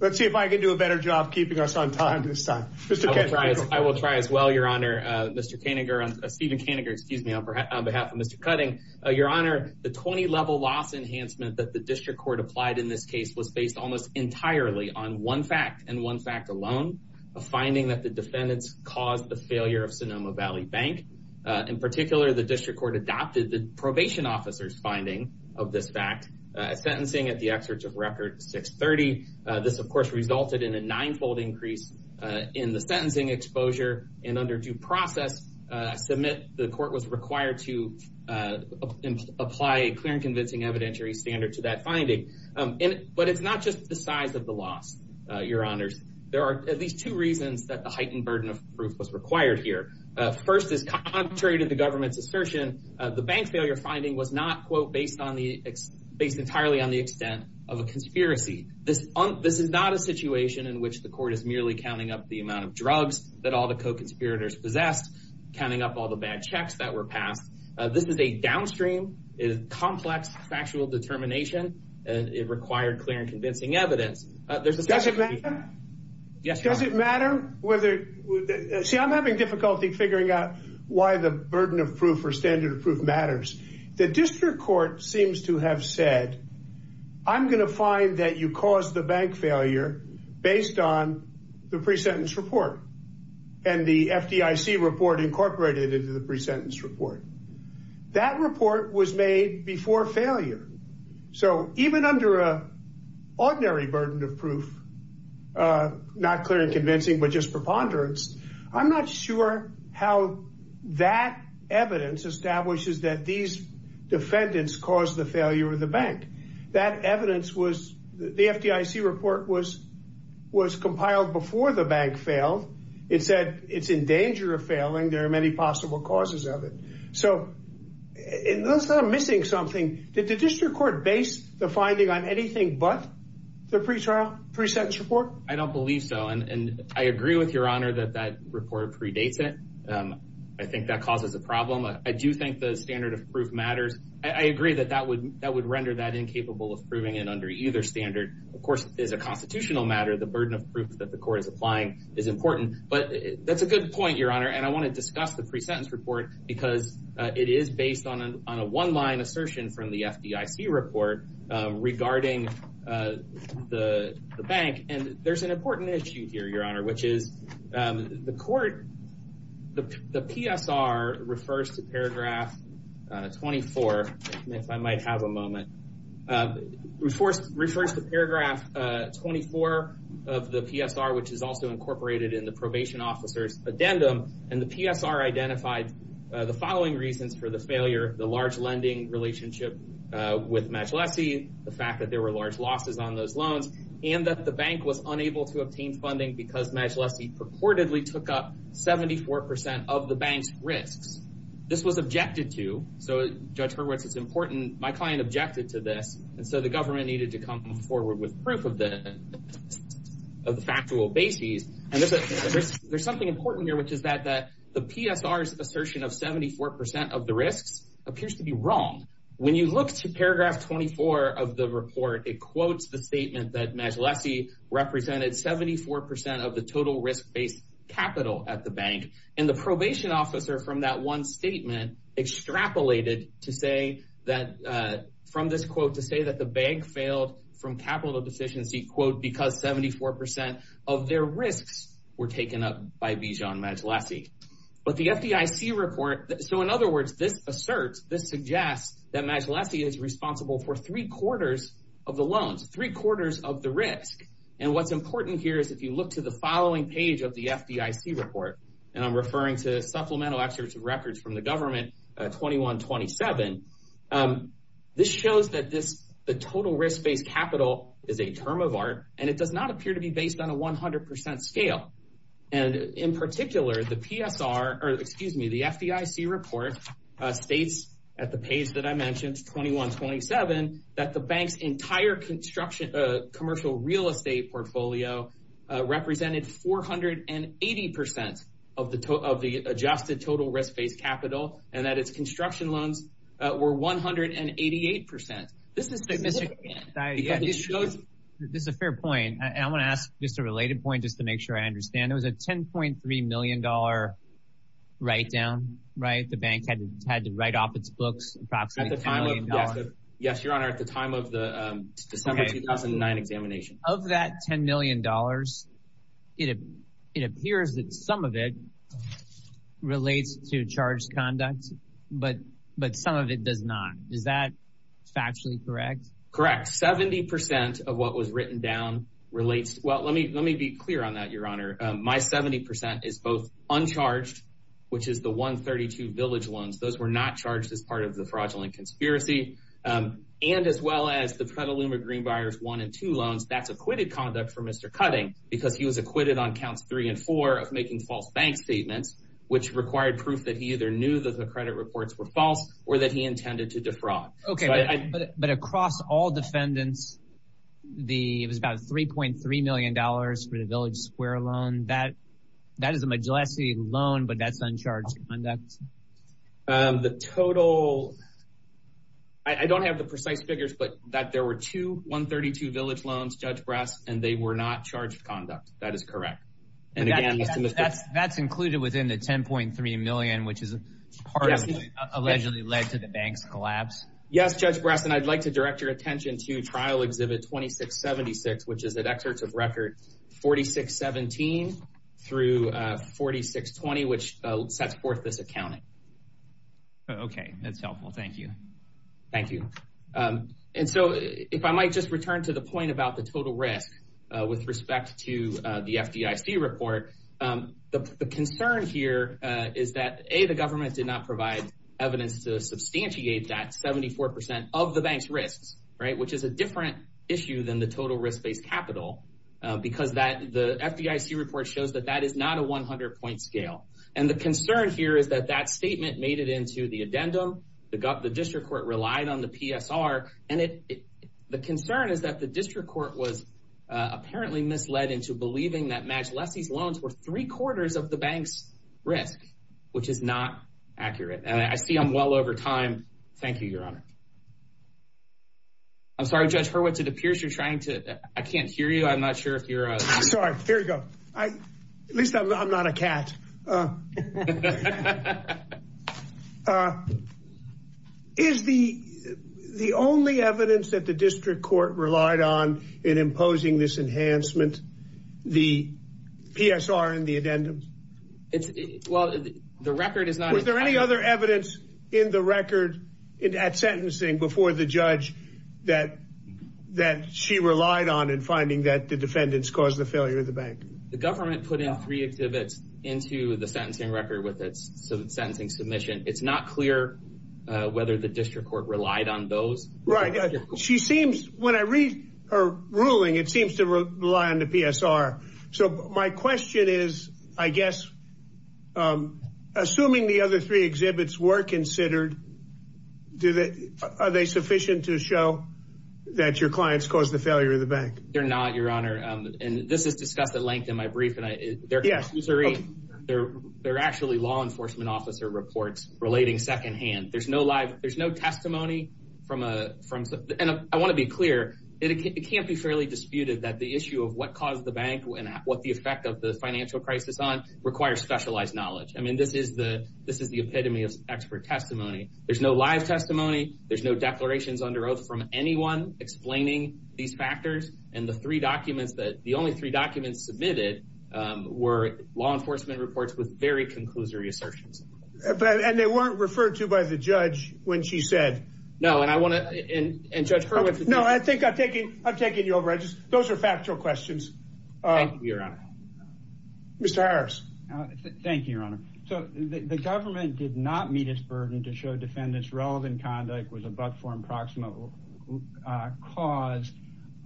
Let's see if I can do a better job of keeping us on time this time. I will try as well, your honor. Mr. Koeniger, Stephen Koeniger, excuse me, on behalf of Mr. Cutting. Your honor, the 20 level loss enhancement that the district court applied in this case was based almost entirely on one fact and one fact alone, a finding that the defendant caused the failure of Sonoma Valley Bank. In particular, the district court adopted the probation officer's fact sentencing at the experts of record 630. This of course resulted in a ninefold increase in the sentencing exposure and under due process to admit the court was required to apply a clear and convincing evidentiary standard to that finding. But it's not just the size of the loss, your honors. There are at least two reasons that the heightened burden of proof was required here. First is contrary to the government's assertion, the bank failure finding was not based entirely on the extent of a conspiracy. This is not a situation in which the court is merely counting up the amount of drugs that all the co-conspirators possess, counting up all the bad checks that were passed. This is a downstream complex factual determination and it required clear and convincing evidence. Does it matter? Yes. Does it matter? See, I'm having difficulty figuring out why the burden of proof or standard of proof matters. The district court seems to have said, I'm going to find that you caused the bank failure based on the pre-sentence report and the FDIC report incorporated into the pre-sentence report. That report was made before failure. So even under a ordinary burden of proof, not clear and convincing, but just preponderance, I'm not sure how that evidence establishes that these defendants caused the failure of the bank. That evidence was, the FDIC report was compiled before the bank failed. It said it's in danger of failing. There are many possible causes of it. So it looks like I'm missing something. Did the district court base the finding on anything but the pre-sentence report? I don't believe so. And I agree with your honor that that report predates it. I think that causes a problem. I do think the standard of proof matters. I agree that that would render that incapable of proving it under either standard. Of course, it is a constitutional matter. The burden of proof that the court is applying is important, but that's a good point, your honor. And I want to discuss the pre-sentence report because it is based on a one-line assertion from the FDIC report regarding the bank. And there's an important issue here, your honor, which is the court, the PSR refers to paragraph 24, if I might have a moment, refers to paragraph 24 of the PSR, which is also incorporated in the probation officer's addendum. And the PSR identified the following reasons for the failure of the large lending relationship with Majellefi, the fact that there were large losses on those loans, and that the bank was unable to obtain funding because Majellefi purportedly took up 74 percent of the bank's risk. This was objected to. So, Judge Hurwitz, it's important. My client objected to this. And so the government needed to come forward with proof of the factual basis. And there's something important here, which is that the PSR's assertion of 74 percent of the risk appears to be wrong. When you look to paragraph 24 of the report, it quotes the statement that Majellefi represented 74 percent of the total risk-based capital at the bank. And the probation officer from that one statement extrapolated to say that, from this quote, to say that the bank failed from capital deficiency, quote, because 74 percent of their risks were taken up by Bijan Majellefi. But the FDIC report, so in other words, this asserts, this suggests that Majellefi is responsible for three quarters of the loans, three quarters of the risk. And what's important here is if you look to the following page of the FDIC report, and I'm referring to supplemental records from the term of art, and it does not appear to be based on a 100 percent scale. And in particular, the PSR, or excuse me, the FDIC report states at the page that I mentioned, 2127, that the bank's entire construction, commercial real estate portfolio represented 480 percent of the adjusted total risk-based capital, and that its construction loans were 188 percent. This is significant. This is a fair point, and I want to ask just a related point just to make sure I understand. It was a $10.3 million write-down, right? The bank had to write off its books. Yes, Your Honor, at the time of the December 2009 examination. Of that $10 million, it appears that some of it relates to charged conduct, but some of it does not. Is that factually correct? Correct. 70 percent of what was written down relates. Well, let me be clear on that, Your Honor. My 70 percent is both uncharged, which is the 132 village loans. Those were not charged as part of the fraudulent conspiracy. And as well as the Petaluma Greenbuyers one and two loans, that's acquitted conduct for Mr. Cutting because he was acquitted on counts three and four of making false bank statements, which required proof that he either knew that the credit reports were false or that he intended to defraud. Okay, but across all defendants, it was about $3.3 million for the village square loan. That is a majority loan, but that's uncharged conduct. The total, I don't have the precise figures, but that there were two 132 village loans, and they were not charged conduct. That is correct. That's included within the $10.3 million, which is part of allegedly led to the bank collapse. Yes, Judge Brass, and I'd like to direct your attention to trial exhibit 2676, which is an excerpt of records 4617 through 4620, which sets forth this accounting. Okay, that's helpful. Thank you. And so if I might just return to the point about the total risk with respect to the FDIC report, the concern here is that A, the government did not provide evidence to substantiate that 74% of the bank's risk, right, which is a different issue than the total risk based capital, because the FDIC report shows that that is not a 100 point scale. And the concern here is that statement made it into the addendum. The district court relied on the PSR. And the concern is that the district court was apparently misled into believing that Max Leffy's loans were three quarters of the bank's risk, which is not accurate. I see I'm well over time. Thank you, Your Honor. I'm sorry, Judge Hurwitz, it appears you're trying to, I can't hear you. I'm not sure if you're- Sorry, there you go. At least I'm not a cat. Is the only evidence that the district court relied on in imposing this enhancement, the PSR in the addendum? Well, the record is not- Was there any other evidence in the record at sentencing before the judge that she relied on in finding that the defendants caused the failure of the bank? The government put in three exhibits into the sentencing record with its sentencing submission. It's not clear whether the district court relied on those. Right. She seems, when I read her ruling, it seems to rely on the PSR. So my question is, I guess, assuming the other three exhibits were considered, are they sufficient to show that your clients caused the failure of the bank? They're not, Your Honor. And this is discussed at length in my brief, and they're actually law enforcement officer reports relating secondhand. There's no live, there's no testimony from, and I want to be clear, it can't be fairly disputed that the issue of what caused the bank and what the effect of the financial crisis on requires specialized knowledge. I mean, this is the epitome of expert testimony. There's no live testimony. There's no declarations under oath from anyone explaining these factors. And the three documents, the only three documents submitted were law enforcement reports with very conclusory assertions. And they weren't referred to by the judge when she said- No, and I want to, and Judge Ferguson- No, I think I'm taking you over. Those are factual questions. Thank you, Your Honor. Mr. Harris. Thank you, Your Honor. So the government did not meet its burden to show defendants' relevant conduct was a but-form proximal cause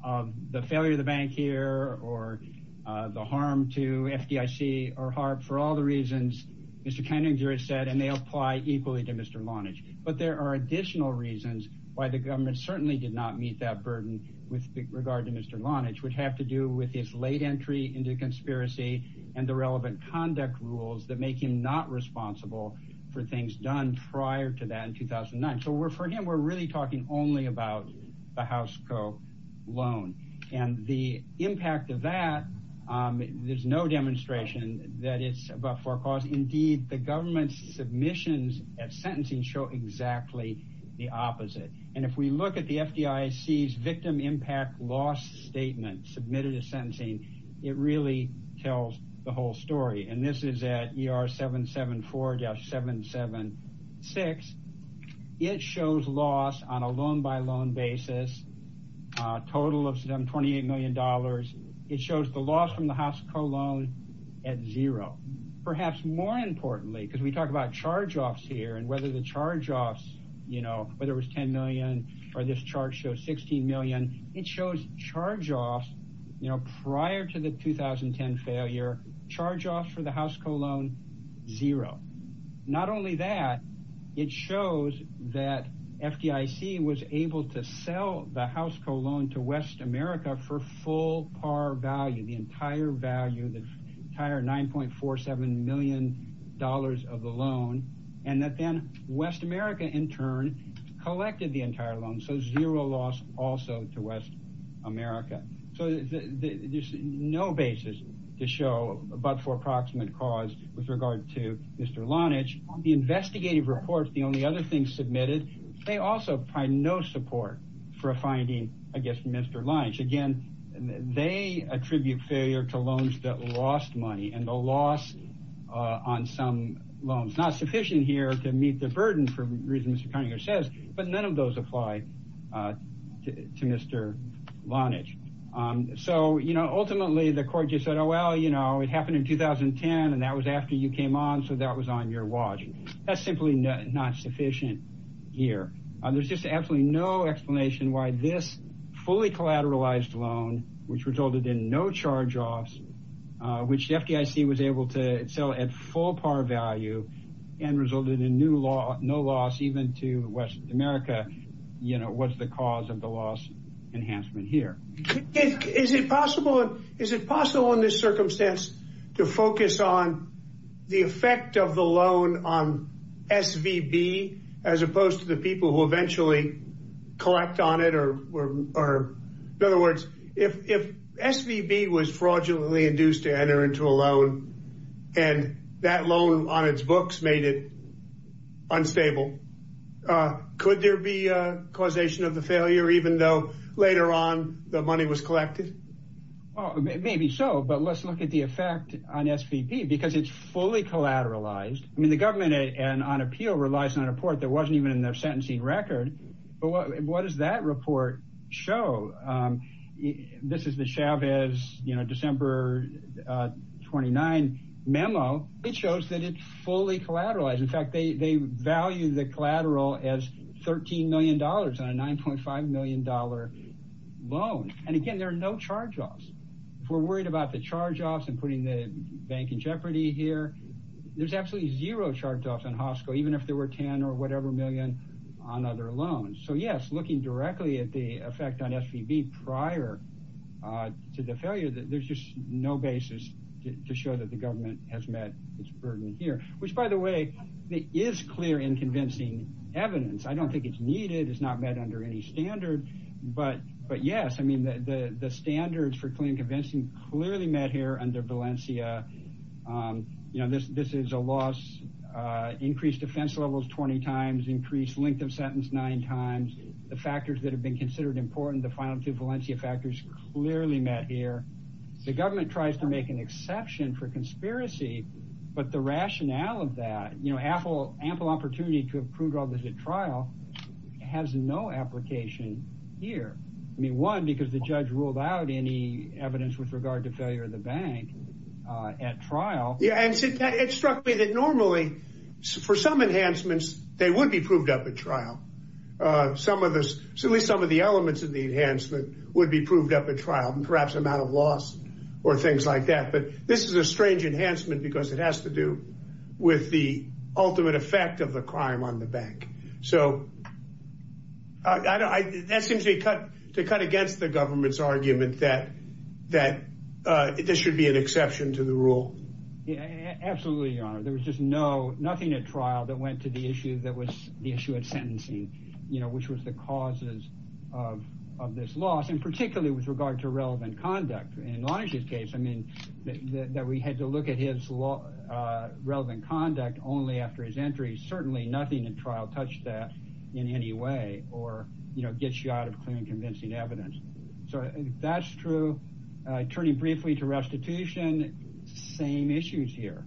of the failure of the bank here or the harm to FDIC or Hart for all the reasons Mr. Keninger said, and they apply equally to Mr. Lonage. But there are additional reasons why the government certainly did not meet that burden with regard to Mr. Lonage would have to do with his late entry into the conspiracy and the relevant conduct rules that make him not responsible for things done prior to that in 2009. So for him, we're really talking only about the House Co. loan. And the impact of that, there's no demonstration that it's a but-for cause. Indeed, the government's submissions at sentencing show exactly the opposite. And if we look at the FDIC's victim impact loss submitted at sentencing, it really tells the whole story. And this is at ER 774-776. It shows loss on a loan-by-loan basis, total of $28 million. It shows the loss from the House Co. loan at zero. Perhaps more importantly, because we talk about charge-offs here and whether the charge-offs, you know, whether it was $10 or this chart shows $16 million, it shows charge-offs, you know, prior to the 2010 failure, charge-offs for the House Co. loan, zero. Not only that, it shows that FDIC was able to sell the House Co. loan to West America for full par value, the entire value, the entire $9.47 million of the loan, and that then West America, in turn, collected the entire loan. So, zero loss also to West America. So, there's no basis to show a but-for approximate cause with regard to Mr. Lonitch. The investigative report, the only other thing submitted, they also find no support for finding, I guess, Mr. Lonitch. Again, they attribute failure to some loans. Not sufficient here to meet the burden for reasons Mr. Cunningham says, but none of those apply to Mr. Lonitch. So, you know, ultimately, the court just said, oh, well, you know, it happened in 2010, and that was after you came on, so that was on your watch. That's simply not sufficient here. There's just absolutely no explanation why this fully collateralized loan, which resulted in no charge-offs, which FDIC was able to at full par value and resulted in no loss even to West America, you know, was the cause of the loss enhancement here. Is it possible in this circumstance to focus on the effect of the loan on SVB as opposed to the people who eventually collect on it? In other words, if SVB was fraudulently induced to enter into a loan and that loan on its books made it unstable, could there be a causation of the failure even though later on the money was collected? Maybe so, but let's look at the effect on SVB because it's fully collateralized. I mean, the government on appeal relies on a report that wasn't even in their sentencing record, but what does that report show? This is the Chavez, you know, December 29 memo. It shows that it's fully collateralized. In fact, they value the collateral as $13 million on a $9.5 million loan, and again, there are no charge-offs. If we're worried about the charge-offs and putting the bank in jeopardy here, there's absolutely zero charge-offs in their loans. So yes, looking directly at the effect on SVB prior to the failure, there's just no basis to show that the government has met its burden here, which by the way, it is clear in convincing evidence. I don't think it's needed. It's not met under any standard, but yes, I mean, the standards for claim convincing clearly met here under Valencia. You know, this is a loss, increased defense levels 20 times, increased length of sentence nine times, the factors that have been considered important, the final two Valencia factors clearly met here. The government tries to make an exception for conspiracy, but the rationale of that, you know, ample opportunity to have proved all this at trial has no application here. I mean, because the judge ruled out any evidence with regard to failure of the bank at trial. Yeah, and it struck me that normally for some enhancements, they would be proved up at trial. Some of us, at least some of the elements of the enhancement would be proved up at trial, perhaps amount of loss or things like that. But this is a strange enhancement because it has to do with the ultimate effect of the crime on the bank. So that seems to cut against the government's argument that this should be an exception to the rule. Yeah, absolutely, Your Honor. There was just nothing at trial that went to the issue that was the issue of sentencing, you know, which was the causes of this loss and particularly with regard to relevant conduct. In Lonig's case, I mean, that we had to look at his relevant conduct only after his entry, certainly nothing in trial touched that in any way or, you know, gets you out of clear and convincing evidence. So that's true. Turning briefly to restitution, same issues here.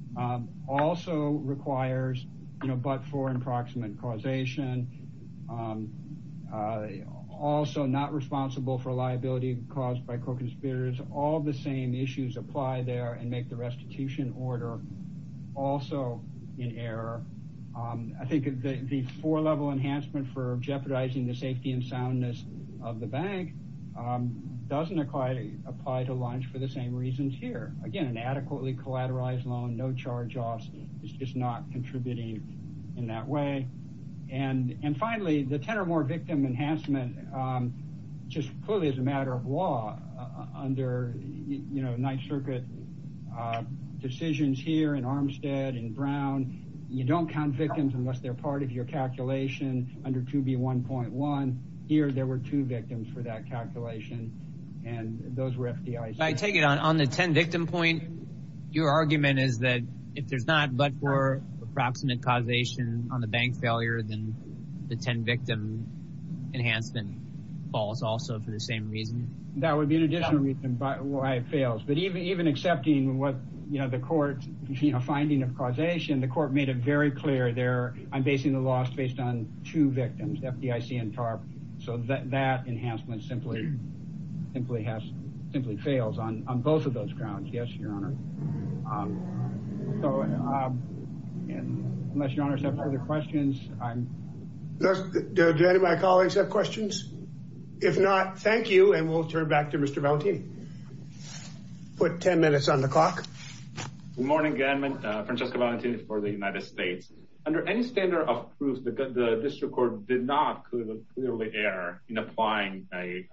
Also requires, you know, but for approximate causation, also not responsible for liability caused by co-conspirators, all the same issues apply there and make the restitution order also in error. I think the four-level enhancement for jeopardizing the safety and soundness of the bank doesn't quite apply to launch for the same reasons here. Again, an adequately collateralized loan, no charge-offs is just not contributing in that way. And finally, the 10 or more victim enhancement just clearly is a matter of law under, you know, Ninth Circuit decisions here in Armstead and Brown. You don't count victims unless they're part of your calculation under 2B1.1. Here, there were two victims for that calculation and those were FDIC. I take it on the 10 victim points, your argument is that if there's not but for approximate causation on the bank failure, the 10 victim enhancement falls also for the same reason? That would be an additional reason why it fails. But even accepting what, you know, the court, finding of causation, the court made it very clear there, I'm basing the loss based on two victims, FDIC and TARP. So that enhancement simply has, simply fails on both of those grounds. Yes, does any of my colleagues have questions? If not, thank you, and we'll turn back to Mr. Valentin. Put 10 minutes on the clock. Good morning, again, Francesco Valentin for the United States. Under any standard of proof, the district court did not clearly err in applying a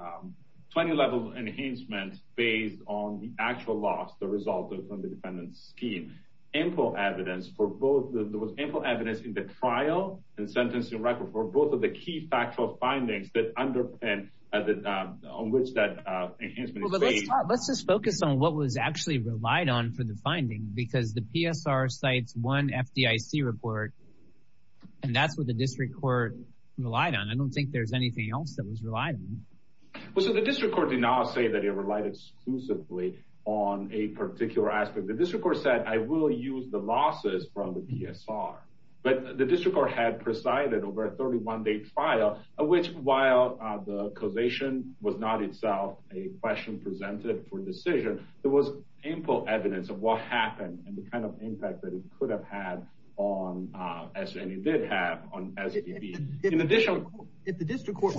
20-level enhancement based on the actual loss, the result of the defendant's scheme. Info evidence for both, there was info evidence in the trial and sentencing record for both of the key factual findings that underpinned on which that enhancement is based. Let's just focus on what was actually relied on for the findings because the PSR cites one FDIC report and that's what the district court relied on. I don't think there's anything else that was relied on. Well, so the district court did not say that it relied exclusively on a particular aspect. The district court said, I will use the losses from the PSR. The district court had presided over a 31-day trial, which while the causation was not itself a question presented for decision, there was info evidence of what happened and the kind of impact that it could have had on, as it did have.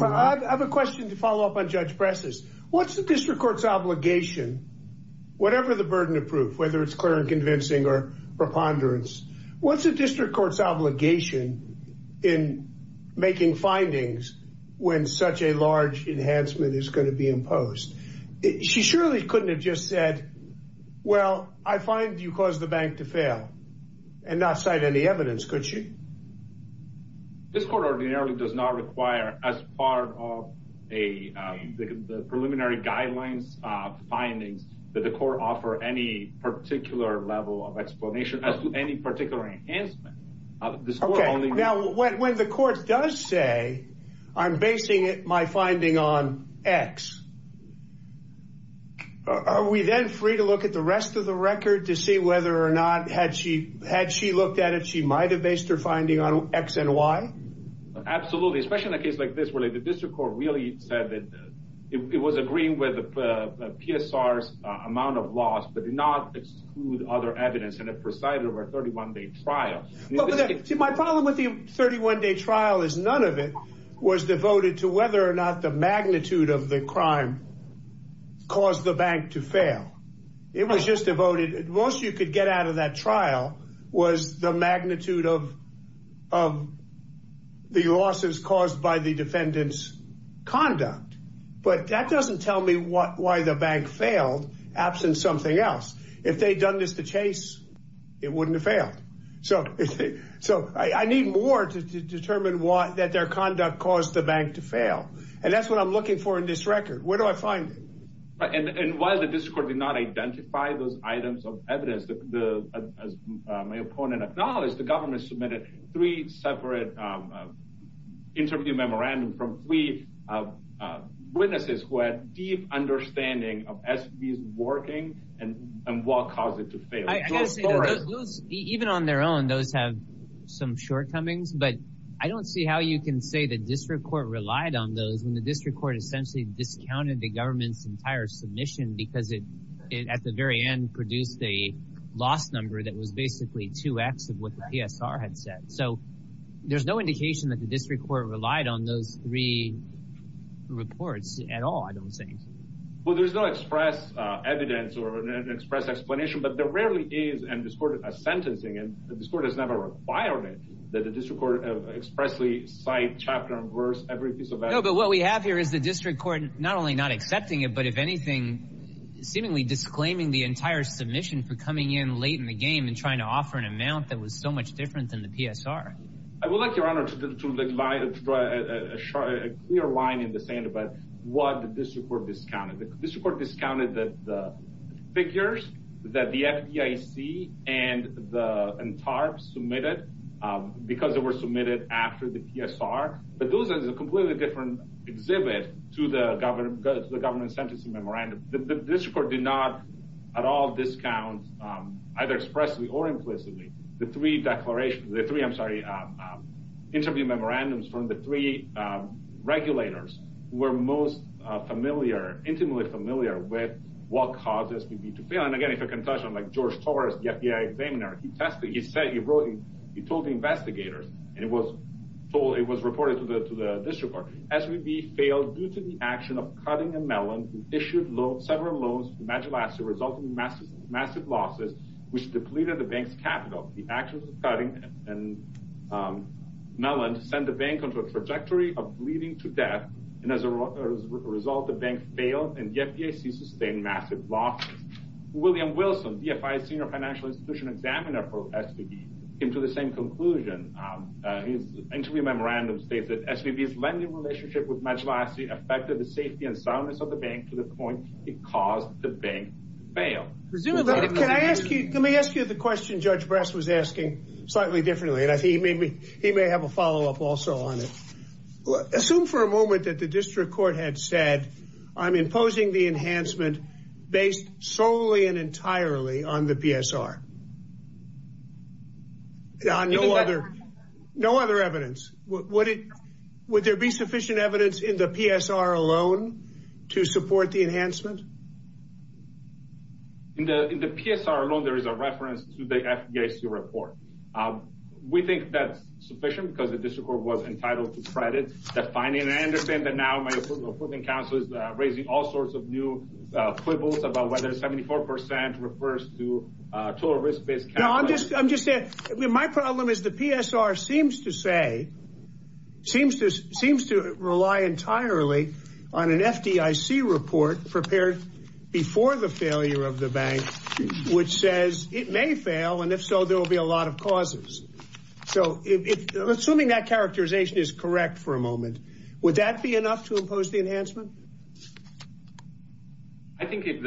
I have a question to follow up on Judge Preston. What's the district court's obligation, whatever the burden of proof, whether it's clear and convincing or preponderance, what's the district court's obligation in making findings when such a large enhancement is going to be imposed? She surely couldn't have just said, well, I find you caused the bank to fail and not cite any evidence, could she? This court ordinarily does not require as part of the preliminary guidelines findings that the court offer any particular level of explanation as to any particular enhancement. Okay. Now, when the court does say, I'm basing my finding on X, are we then free to look at the rest of the record to see whether or not, had she looked at it, she might have based her finding on X and Y? Absolutely. Especially in a case like this where the district court really said that it was agreeing with PSR's amount of loss, but did not exclude other evidence and it presided over a 31-day trial. My problem with the 31-day trial is none of it was devoted to whether or not the magnitude of the crime caused the bank to fail. It was just devoted, the most you could get out of that trial was the magnitude of the losses caused by the defendant's conduct. But that doesn't tell me why the bank failed absent something else. If they'd done this to Chase, it wouldn't have failed. So, I need more to determine that their conduct caused the bank to fail. And that's what I'm looking for in this record. Where do I find it? And while the district court did not identify those items of evidence, as my opponent acknowledged, the government submitted three separate interview memorandums from three witnesses who had deep understanding of SB's working and what caused it to fail. Even on their own, those have some shortcomings, but I don't see how you can say the district court relied on those and the district court essentially discounted the government's entire submission because it, at the very end, produced a loss number that was basically 2x of what the PSR had said. So, there's no indication that the district court relied on those three reports at all, I don't think. Well, there's no express evidence or an express explanation, but there rarely is in this court a sentencing, and the district court has never required it, that the district court expressly cite chapter and verse every piece of that. No, but what we have here is the district court not only not accepting it, but if anything, seemingly disclaiming the entire submission for coming in late in the game and trying to offer an amount that was so much different than the PSR. I would like, your honor, to provide a clear line in the sand about what the district court discounted. The district court discounted the figures that the FDIC and TARP submitted because they were submitted after the PSR, but those are a completely different exhibit to the government's sentencing memorandum. The district court did not at all discount, either expressly or implicitly, the three declarations, the three, I'm sorry, interview memorandums from the three regulators who were most familiar, intimately familiar, with what causes could be fulfilled. And again, if you can touch on like the FDIC, he said, he told the investigators, and it was reported to the district court, SVB failed due to the action of Cutting and Mellon, who issued several loans to Madge Laska, resulting in massive losses, which depleted the bank's capital. The actions of Cutting and Mellon sent the bank onto a trajectory of bleeding to death, and as a result, the bank failed, and the FDIC sustained massive losses. William Wilson, DFI's senior financial institution examiner for SVB, came to the same conclusion. His interview memorandum states that SVB's lending relationship with Madge Laska affected the safety and soundness of the bank to the point it caused the bank to fail. Let me ask you the question Judge Bress was asking slightly differently, and I think he may have a follow-up also on it. Assume for a moment that district court had said, I'm imposing the enhancement based solely and entirely on the PSR. No other evidence. Would there be sufficient evidence in the PSR alone to support the enhancement? In the PSR alone, there is a reference to the FDIC report. We think that's sufficient because the district court was entitled to credit that finding, and I understand that now my approving counsel is raising all sorts of new quibbles about whether 74% refers to total risk-based accounting. My problem is the PSR seems to rely entirely on an FDIC report prepared before the failure of the bank, which says it may fail, and if so, there will be a lot of causes. Assuming that characterization is correct for a moment, would that be enough to impose the enhancement? I think if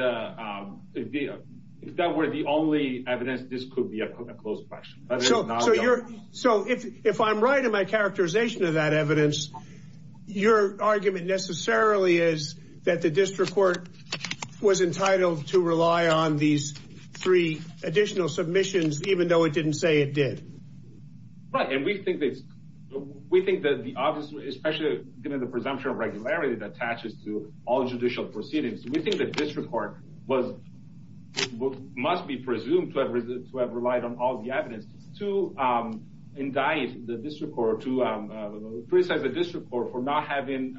that were the only evidence, this could be a close question. So if I'm right in my characterization of that evidence, your argument necessarily is that the district court was entitled to rely on these three additional submissions, even though it didn't say it did. Right, and we think that the obvious, especially given the presumption of regularity that attaches to all judicial proceedings, we think that district court must be presumed to have relied on all the evidence to indict the district court for not having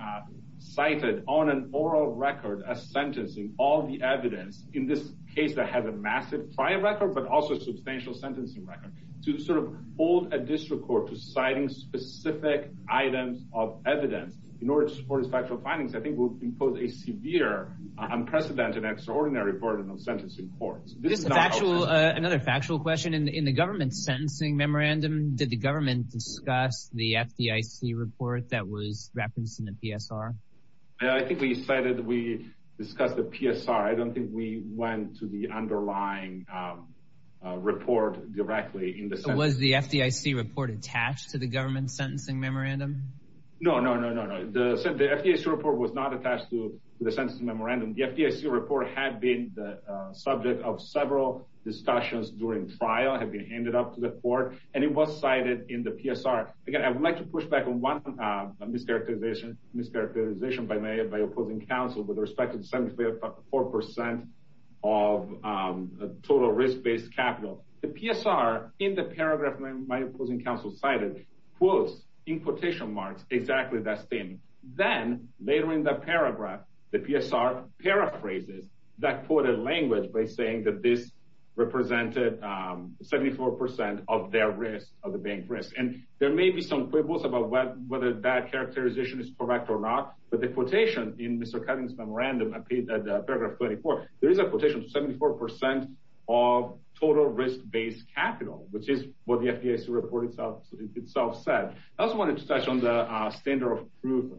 cited on an oral record a sentence in all the evidence, in this case that has a massive trial record but also substantial sentencing record, to sort of hold a district court to citing specific items of evidence in order to support its factual findings, I think will impose a severe unprecedented and extraordinary burden on sentencing courts. Another factual question, in the government's sentencing memorandum, did the government discuss the FDIC report that was referenced in the PSR? Yeah, I think we cited, we discussed the PSR. I don't think we went to the underlying report directly. Was the FDIC report attached to the government's sentencing memorandum? No, no, no, no, no. The FDIC report was not attached to the sentencing memorandum. The FDIC report had been the subject of several discussions during trial, had been handed up to the court, and it was cited in the PSR. Again, I'd like to push back on one mischaracterization, mischaracterization by my opposing counsel with respect to the 74% of total risk-based capital. The PSR, in the paragraph my opposing counsel cited, quotes in quotation marks exactly that thing. Then, later in the paragraph, the PSR paraphrases that quoted language by saying that this represented 74% of their risk, of the bank's risk. And there may be some quibbles about whether that characterization is correct or not, but the quotation in Mr. Covington's memorandum appears at paragraph 24. There is a quotation of 74% of total risk-based capital, which is what the FDIC report itself said. I also wanted to touch on the standard of proof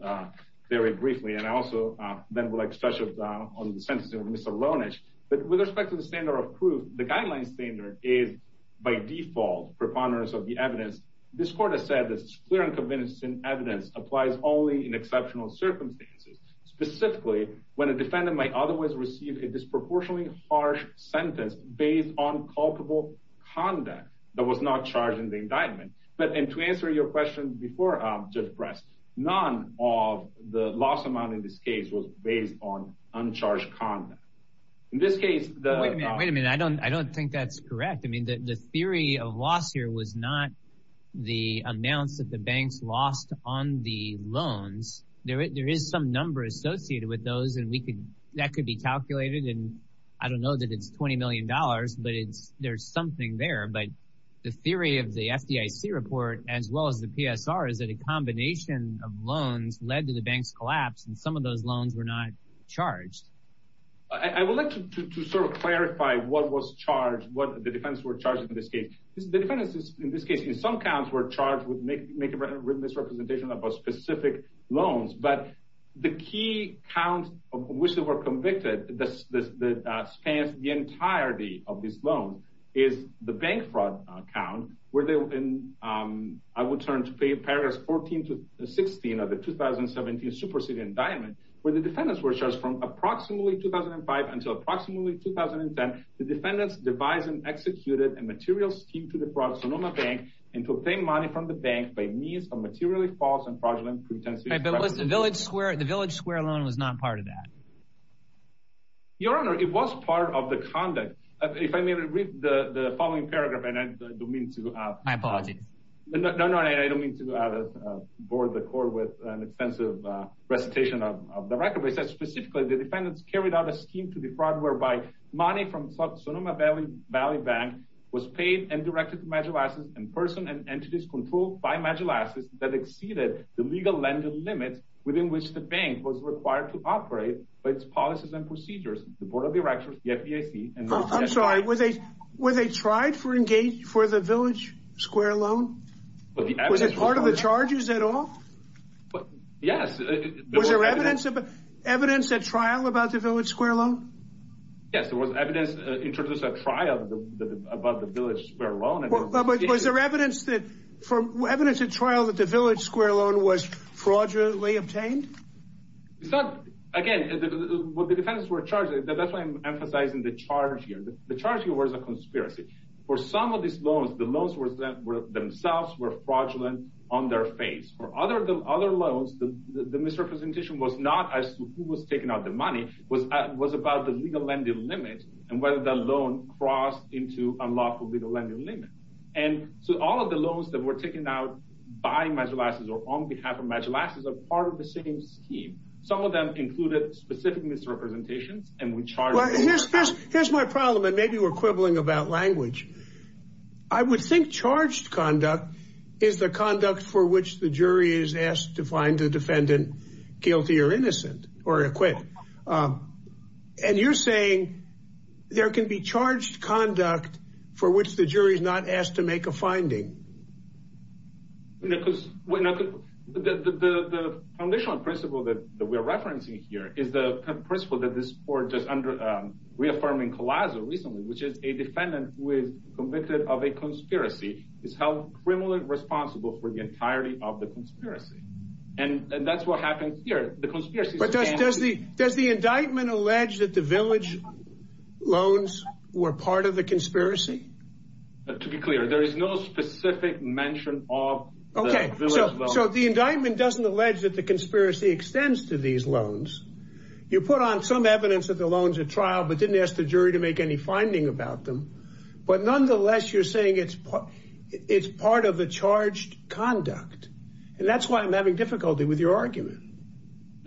very briefly, and also then would like to touch on the sentencing of Mr. Lonich. But with respect to the standard of proof, the guideline standard is, by default, preponderance of the evidence. This court has this clear and convincing evidence applies only in exceptional circumstances. Specifically, when a defendant might otherwise receive a disproportionately harsh sentence based on culpable conduct that was not charged in the indictment. But, and to answer your question before I'm just pressed, none of the loss amount in this case was based on uncharged conduct. In this case, the- Wait a minute, I don't think that's correct. I mean, the theory of loss here was not the announced that the banks lost on the loans. There is some number associated with those and that could be calculated. And I don't know that it's $20 million, but there's something there. But the theory of the FDIC report, as well as the PSR, is that a combination of loans led to the bank's collapse and some of those loans were not charged. I would like to sort of clarify what the defendants were charged in this case. The defendants, in this case, in some counts, were charged with making misrepresentation of specific loans. But the key count of which they were convicted that spans the entirety of this loan is the bank fraud count, where they were in, I would turn to paragraphs 14 to 16 of the 2017 super city indictment, where the defendants were charged from approximately 2005 until approximately 2010. The defendants devised and executed a material scheme to defraud Sonoma Bank and to obtain money from the bank by means of materially false and fraudulent pretensions. But the Village Square loan was not part of that. Your Honor, it was part of the conduct. If I may read the following paragraph, and I don't mean to- My apologies. No, no, I don't mean to bore the court with an extensive presentation of the record, but it says specifically, the defendants carried out a scheme to defraud, whereby money from Sonoma Valley Bank was paid and directed to medial assets in person and entities controlled by medial assets that exceeded the legal lending limit within which the bank was required to operate for its policies and procedures. The Board of Directors, the FDIC- I'm sorry, were they tried for the Village Square loan? Was it part of the charges at all? Yes. Evidence at trial about the Village Square loan? Yes, there was evidence in terms of a trial about the Village Square loan. Was there evidence at trial that the Village Square loan was fraudulently obtained? Again, the defendants were charged. That's why I'm emphasizing the charge here. The charge here was a conspiracy. For some of these loans, the loans themselves were fraudulent on their face. For other loans, the misrepresentation was not as to who was taking out the money. It was about the legal lending limit and whether that loan crossed into a lawful legal lending limit. All of the loans that were taken out by medial assets or on behalf of medial assets are part of the same scheme. Some of them included specific misrepresentations and we charged- Here's my problem, and maybe we're charged. I would think charged conduct is the conduct for which the jury is asked to find the defendant guilty or innocent or acquit. You're saying there can be charged conduct for which the jury is not asked to make a finding? The foundational principle that we're referencing here is the principle that this court did under reaffirming Collazo recently, a defendant who is convicted of a conspiracy is held criminally responsible for the entirety of the conspiracy. That's what happened here. The conspiracy- Does the indictment allege that the village loans were part of the conspiracy? To be clear, there is no specific mention of- Okay. The indictment doesn't allege that the conspiracy extends to these loans. You put on some evidence that the loans are trial, but didn't ask the jury to make any finding about them. Nonetheless, you're saying it's part of the charged conduct. That's why I'm having difficulty with your argument.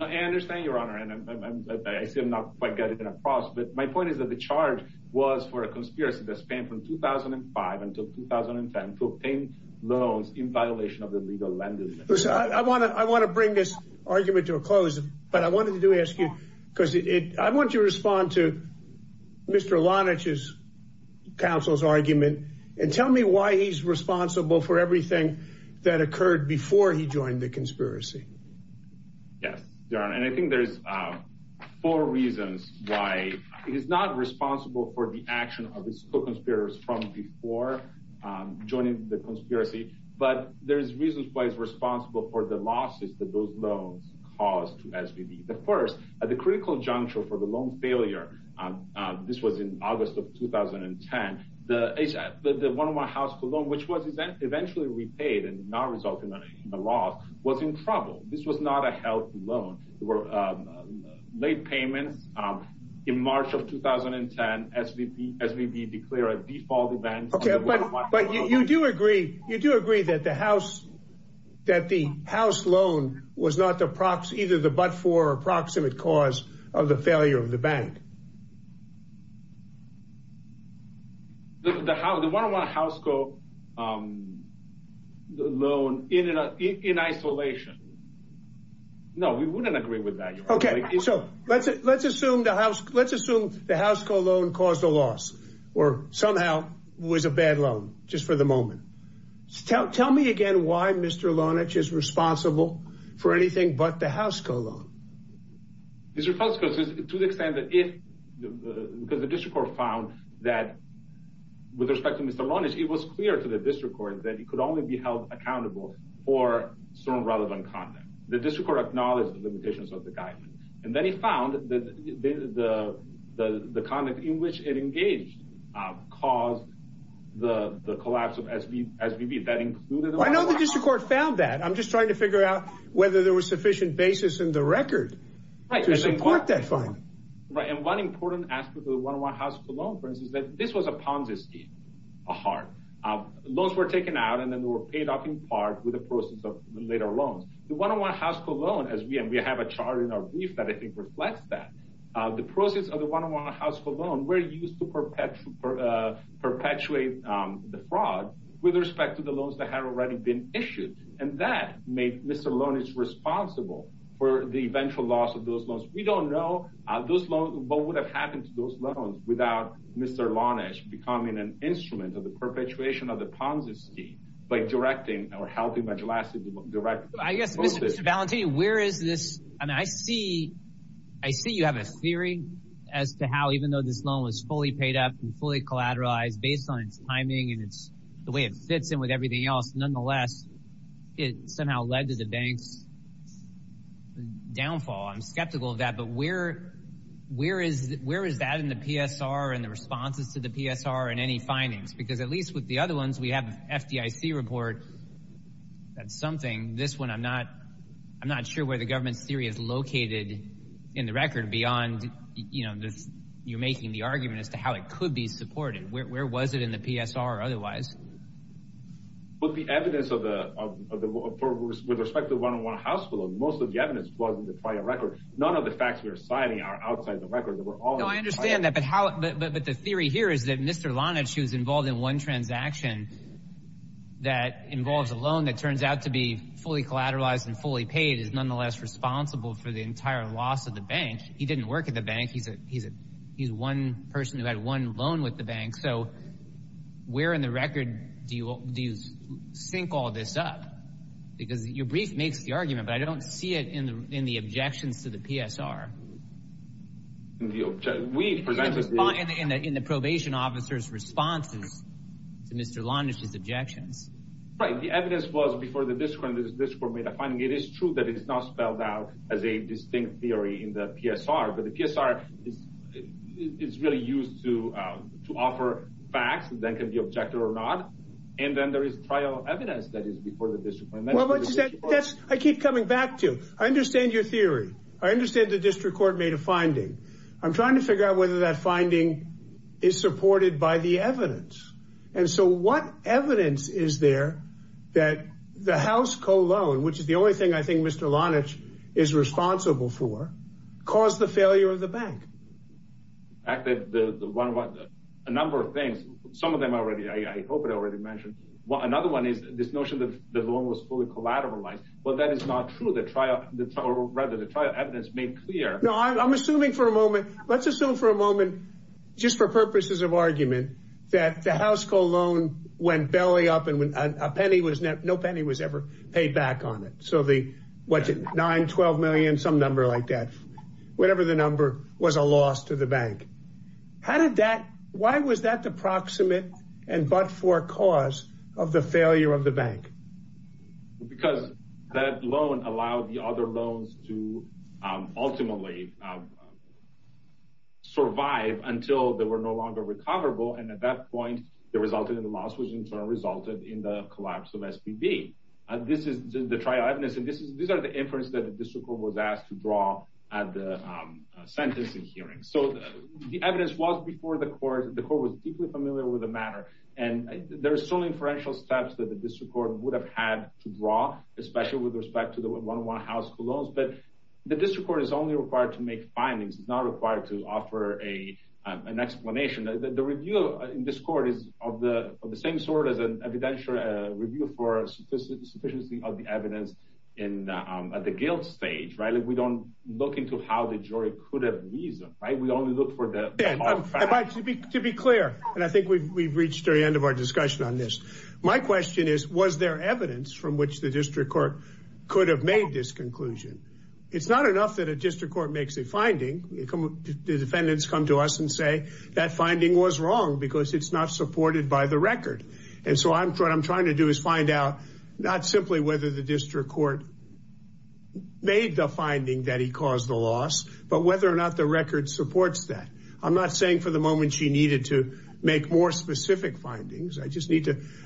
I understand, Your Honor. I see I'm not quite getting across, but my point is that the charge was for a conspiracy that spanned from 2005 until 2010 to obtain loans in violation of the legal language. I want to bring this argument to a close, but I wanted to ask you, because I want you to respond to Mr. Lonitch's counsel's argument, and tell me why he's responsible for everything that occurred before he joined the conspiracy. Yes, Your Honor. I think there's four reasons why he's not responsible for the action of his co-conspirators from before joining the conspiracy, but there's reasons why he's responsible for the losses that those loans caused to SVD. The first, at the critical juncture for the loan failure, this was in August of 2010, the one-to-one house loan, which was eventually repaid and not resulting in a loss, was in trouble. This was not a health loan. There were late payments. In March of 2010, SVD declared a default event. Okay, but you do agree that the house loan was not the but-for or proximate cause of the failure of the bank? The one-to-one house loan in isolation. No, we wouldn't agree with that. Okay, so let's assume the house loan caused a loss, or somehow was a bad loan, just for the moment. Tell me again why Mr. Lonich is responsible for anything but the house loan. Mr. Felsenfeld, to the extent that the district court found that, with respect to Mr. Lonich, it was clear to the district court that he could only be held accountable for some relevant content. The district court acknowledged the limitations of the guidance, and then it found that the content in which it engaged caused the collapse of SVD. I know the district court found that. I'm just trying to figure out whether there was sufficient basis in the record to support that finding. One important aspect of the one-to-one house loan, for instance, is that this was a Ponzi scheme, a heart. Loans were taken out, and then they were paid off in part with the proceeds of later loans. The one-to-one house loan, as we have a chart in that, the proceeds of the one-to-one house loan were used to perpetuate the fraud with respect to the loans that had already been issued, and that made Mr. Lonich responsible for the eventual loss of those loans. We don't know what would have happened to those loans without Mr. Lonich becoming an instrument of the perpetuation of the Ponzi scheme by directing or helping the Ponzi scheme. I'm skeptical of that, but where is that in the PSR and the responses to the PSR and any findings? At least with the other ones, we have an FDIC report. I'm not sure where the theory is located in the record beyond you making the argument as to how it could be supported. Where was it in the PSR or otherwise? With respect to the one-to-one house loan, most of the evidence was in the prior record. None of the facts you're citing are outside the record. I understand that, but the theory here is that Mr. Lonich, who's involved in one transaction that involves a loan that turns out to be fully collateralized and fully paid, is nonetheless responsible for the entire loss of the bank. He didn't work at the bank. He's one person who had one loan with the bank, so where in the record do you sync all this up? Because your brief makes the argument, but I don't see it in the objections to the PSR. In the probation officer's response to Mr. Lonich's objection. The evidence was before the district court made a finding. It is true that it's not spelled out as a distinct theory in the PSR, but the PSR is really used to offer facts that can be objective or not, and then there is trial evidence that is before the district court. I keep coming back to it. I understand your theory. I understand the district court made a finding. I'm trying to that the house co-loan, which is the only thing I think Mr. Lonich is responsible for, caused the failure of the bank. A number of things. Some of them I hope I already mentioned. Another one is this notion that the loan was fully collateralized, but that is not true. Rather, the trial evidence made clear. Let's assume for a moment, just for purposes of argument, that the house co-loan went belly up and no penny was ever paid back on it. Nine, 12 million, some number like that. Whatever the number was a loss to the bank. Why was that the proximate and but-for cause of the failure of the bank? Because that loan allowed the other loans to ultimately survive until they were no longer recoverable, and at that point, the result of the loss was in turn resulted in the collapse of SBB. This is the trial evidence. These are the inferences that the district court was asked to draw at the sentencing hearing. The evidence was before the court. The court was deeply familiar with the matter, and there are still inferential steps that the district court would have had to draw, especially with respect to the one-on-one house co-loans, but the district court is only required to make findings. It's not required to offer an explanation. The review in this court is of the same sort as an evidential review for sufficiency of the evidence at the guilt stage. We don't look into how the jury could have reasoned. We only look for the fact. To be clear, and I think we've reached the end of our discussion on this. My question is, was there evidence from which the district court could have made this conclusion? It's not enough that a district court makes a finding. The defendants come to us and say that finding was wrong because it's not supported by the record, and so what I'm trying to do is find out not simply whether the district court made the finding that he caused the loss, but whether or not the record supports that. I'm not saying for the moment she needed to make more specific findings.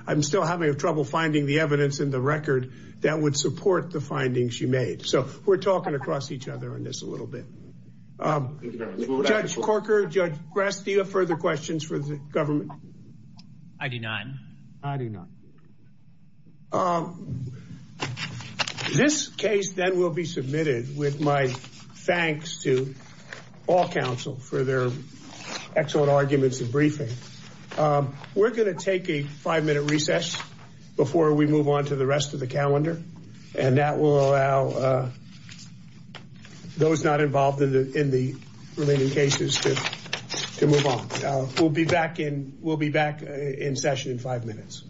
I'm still having trouble finding the evidence in the record that would support the findings she made, so we're talking across each other on this a little bit. Judge Corker, Judge Gracchia, further questions for the government? I do not. I do not. This case then will be submitted with my thanks to all counsel for their excellent arguments and briefing. We're going to take a recess before we move on to the rest of the calendar, and that will allow those not involved in the remaining cases to move on. We'll be back in session in five minutes.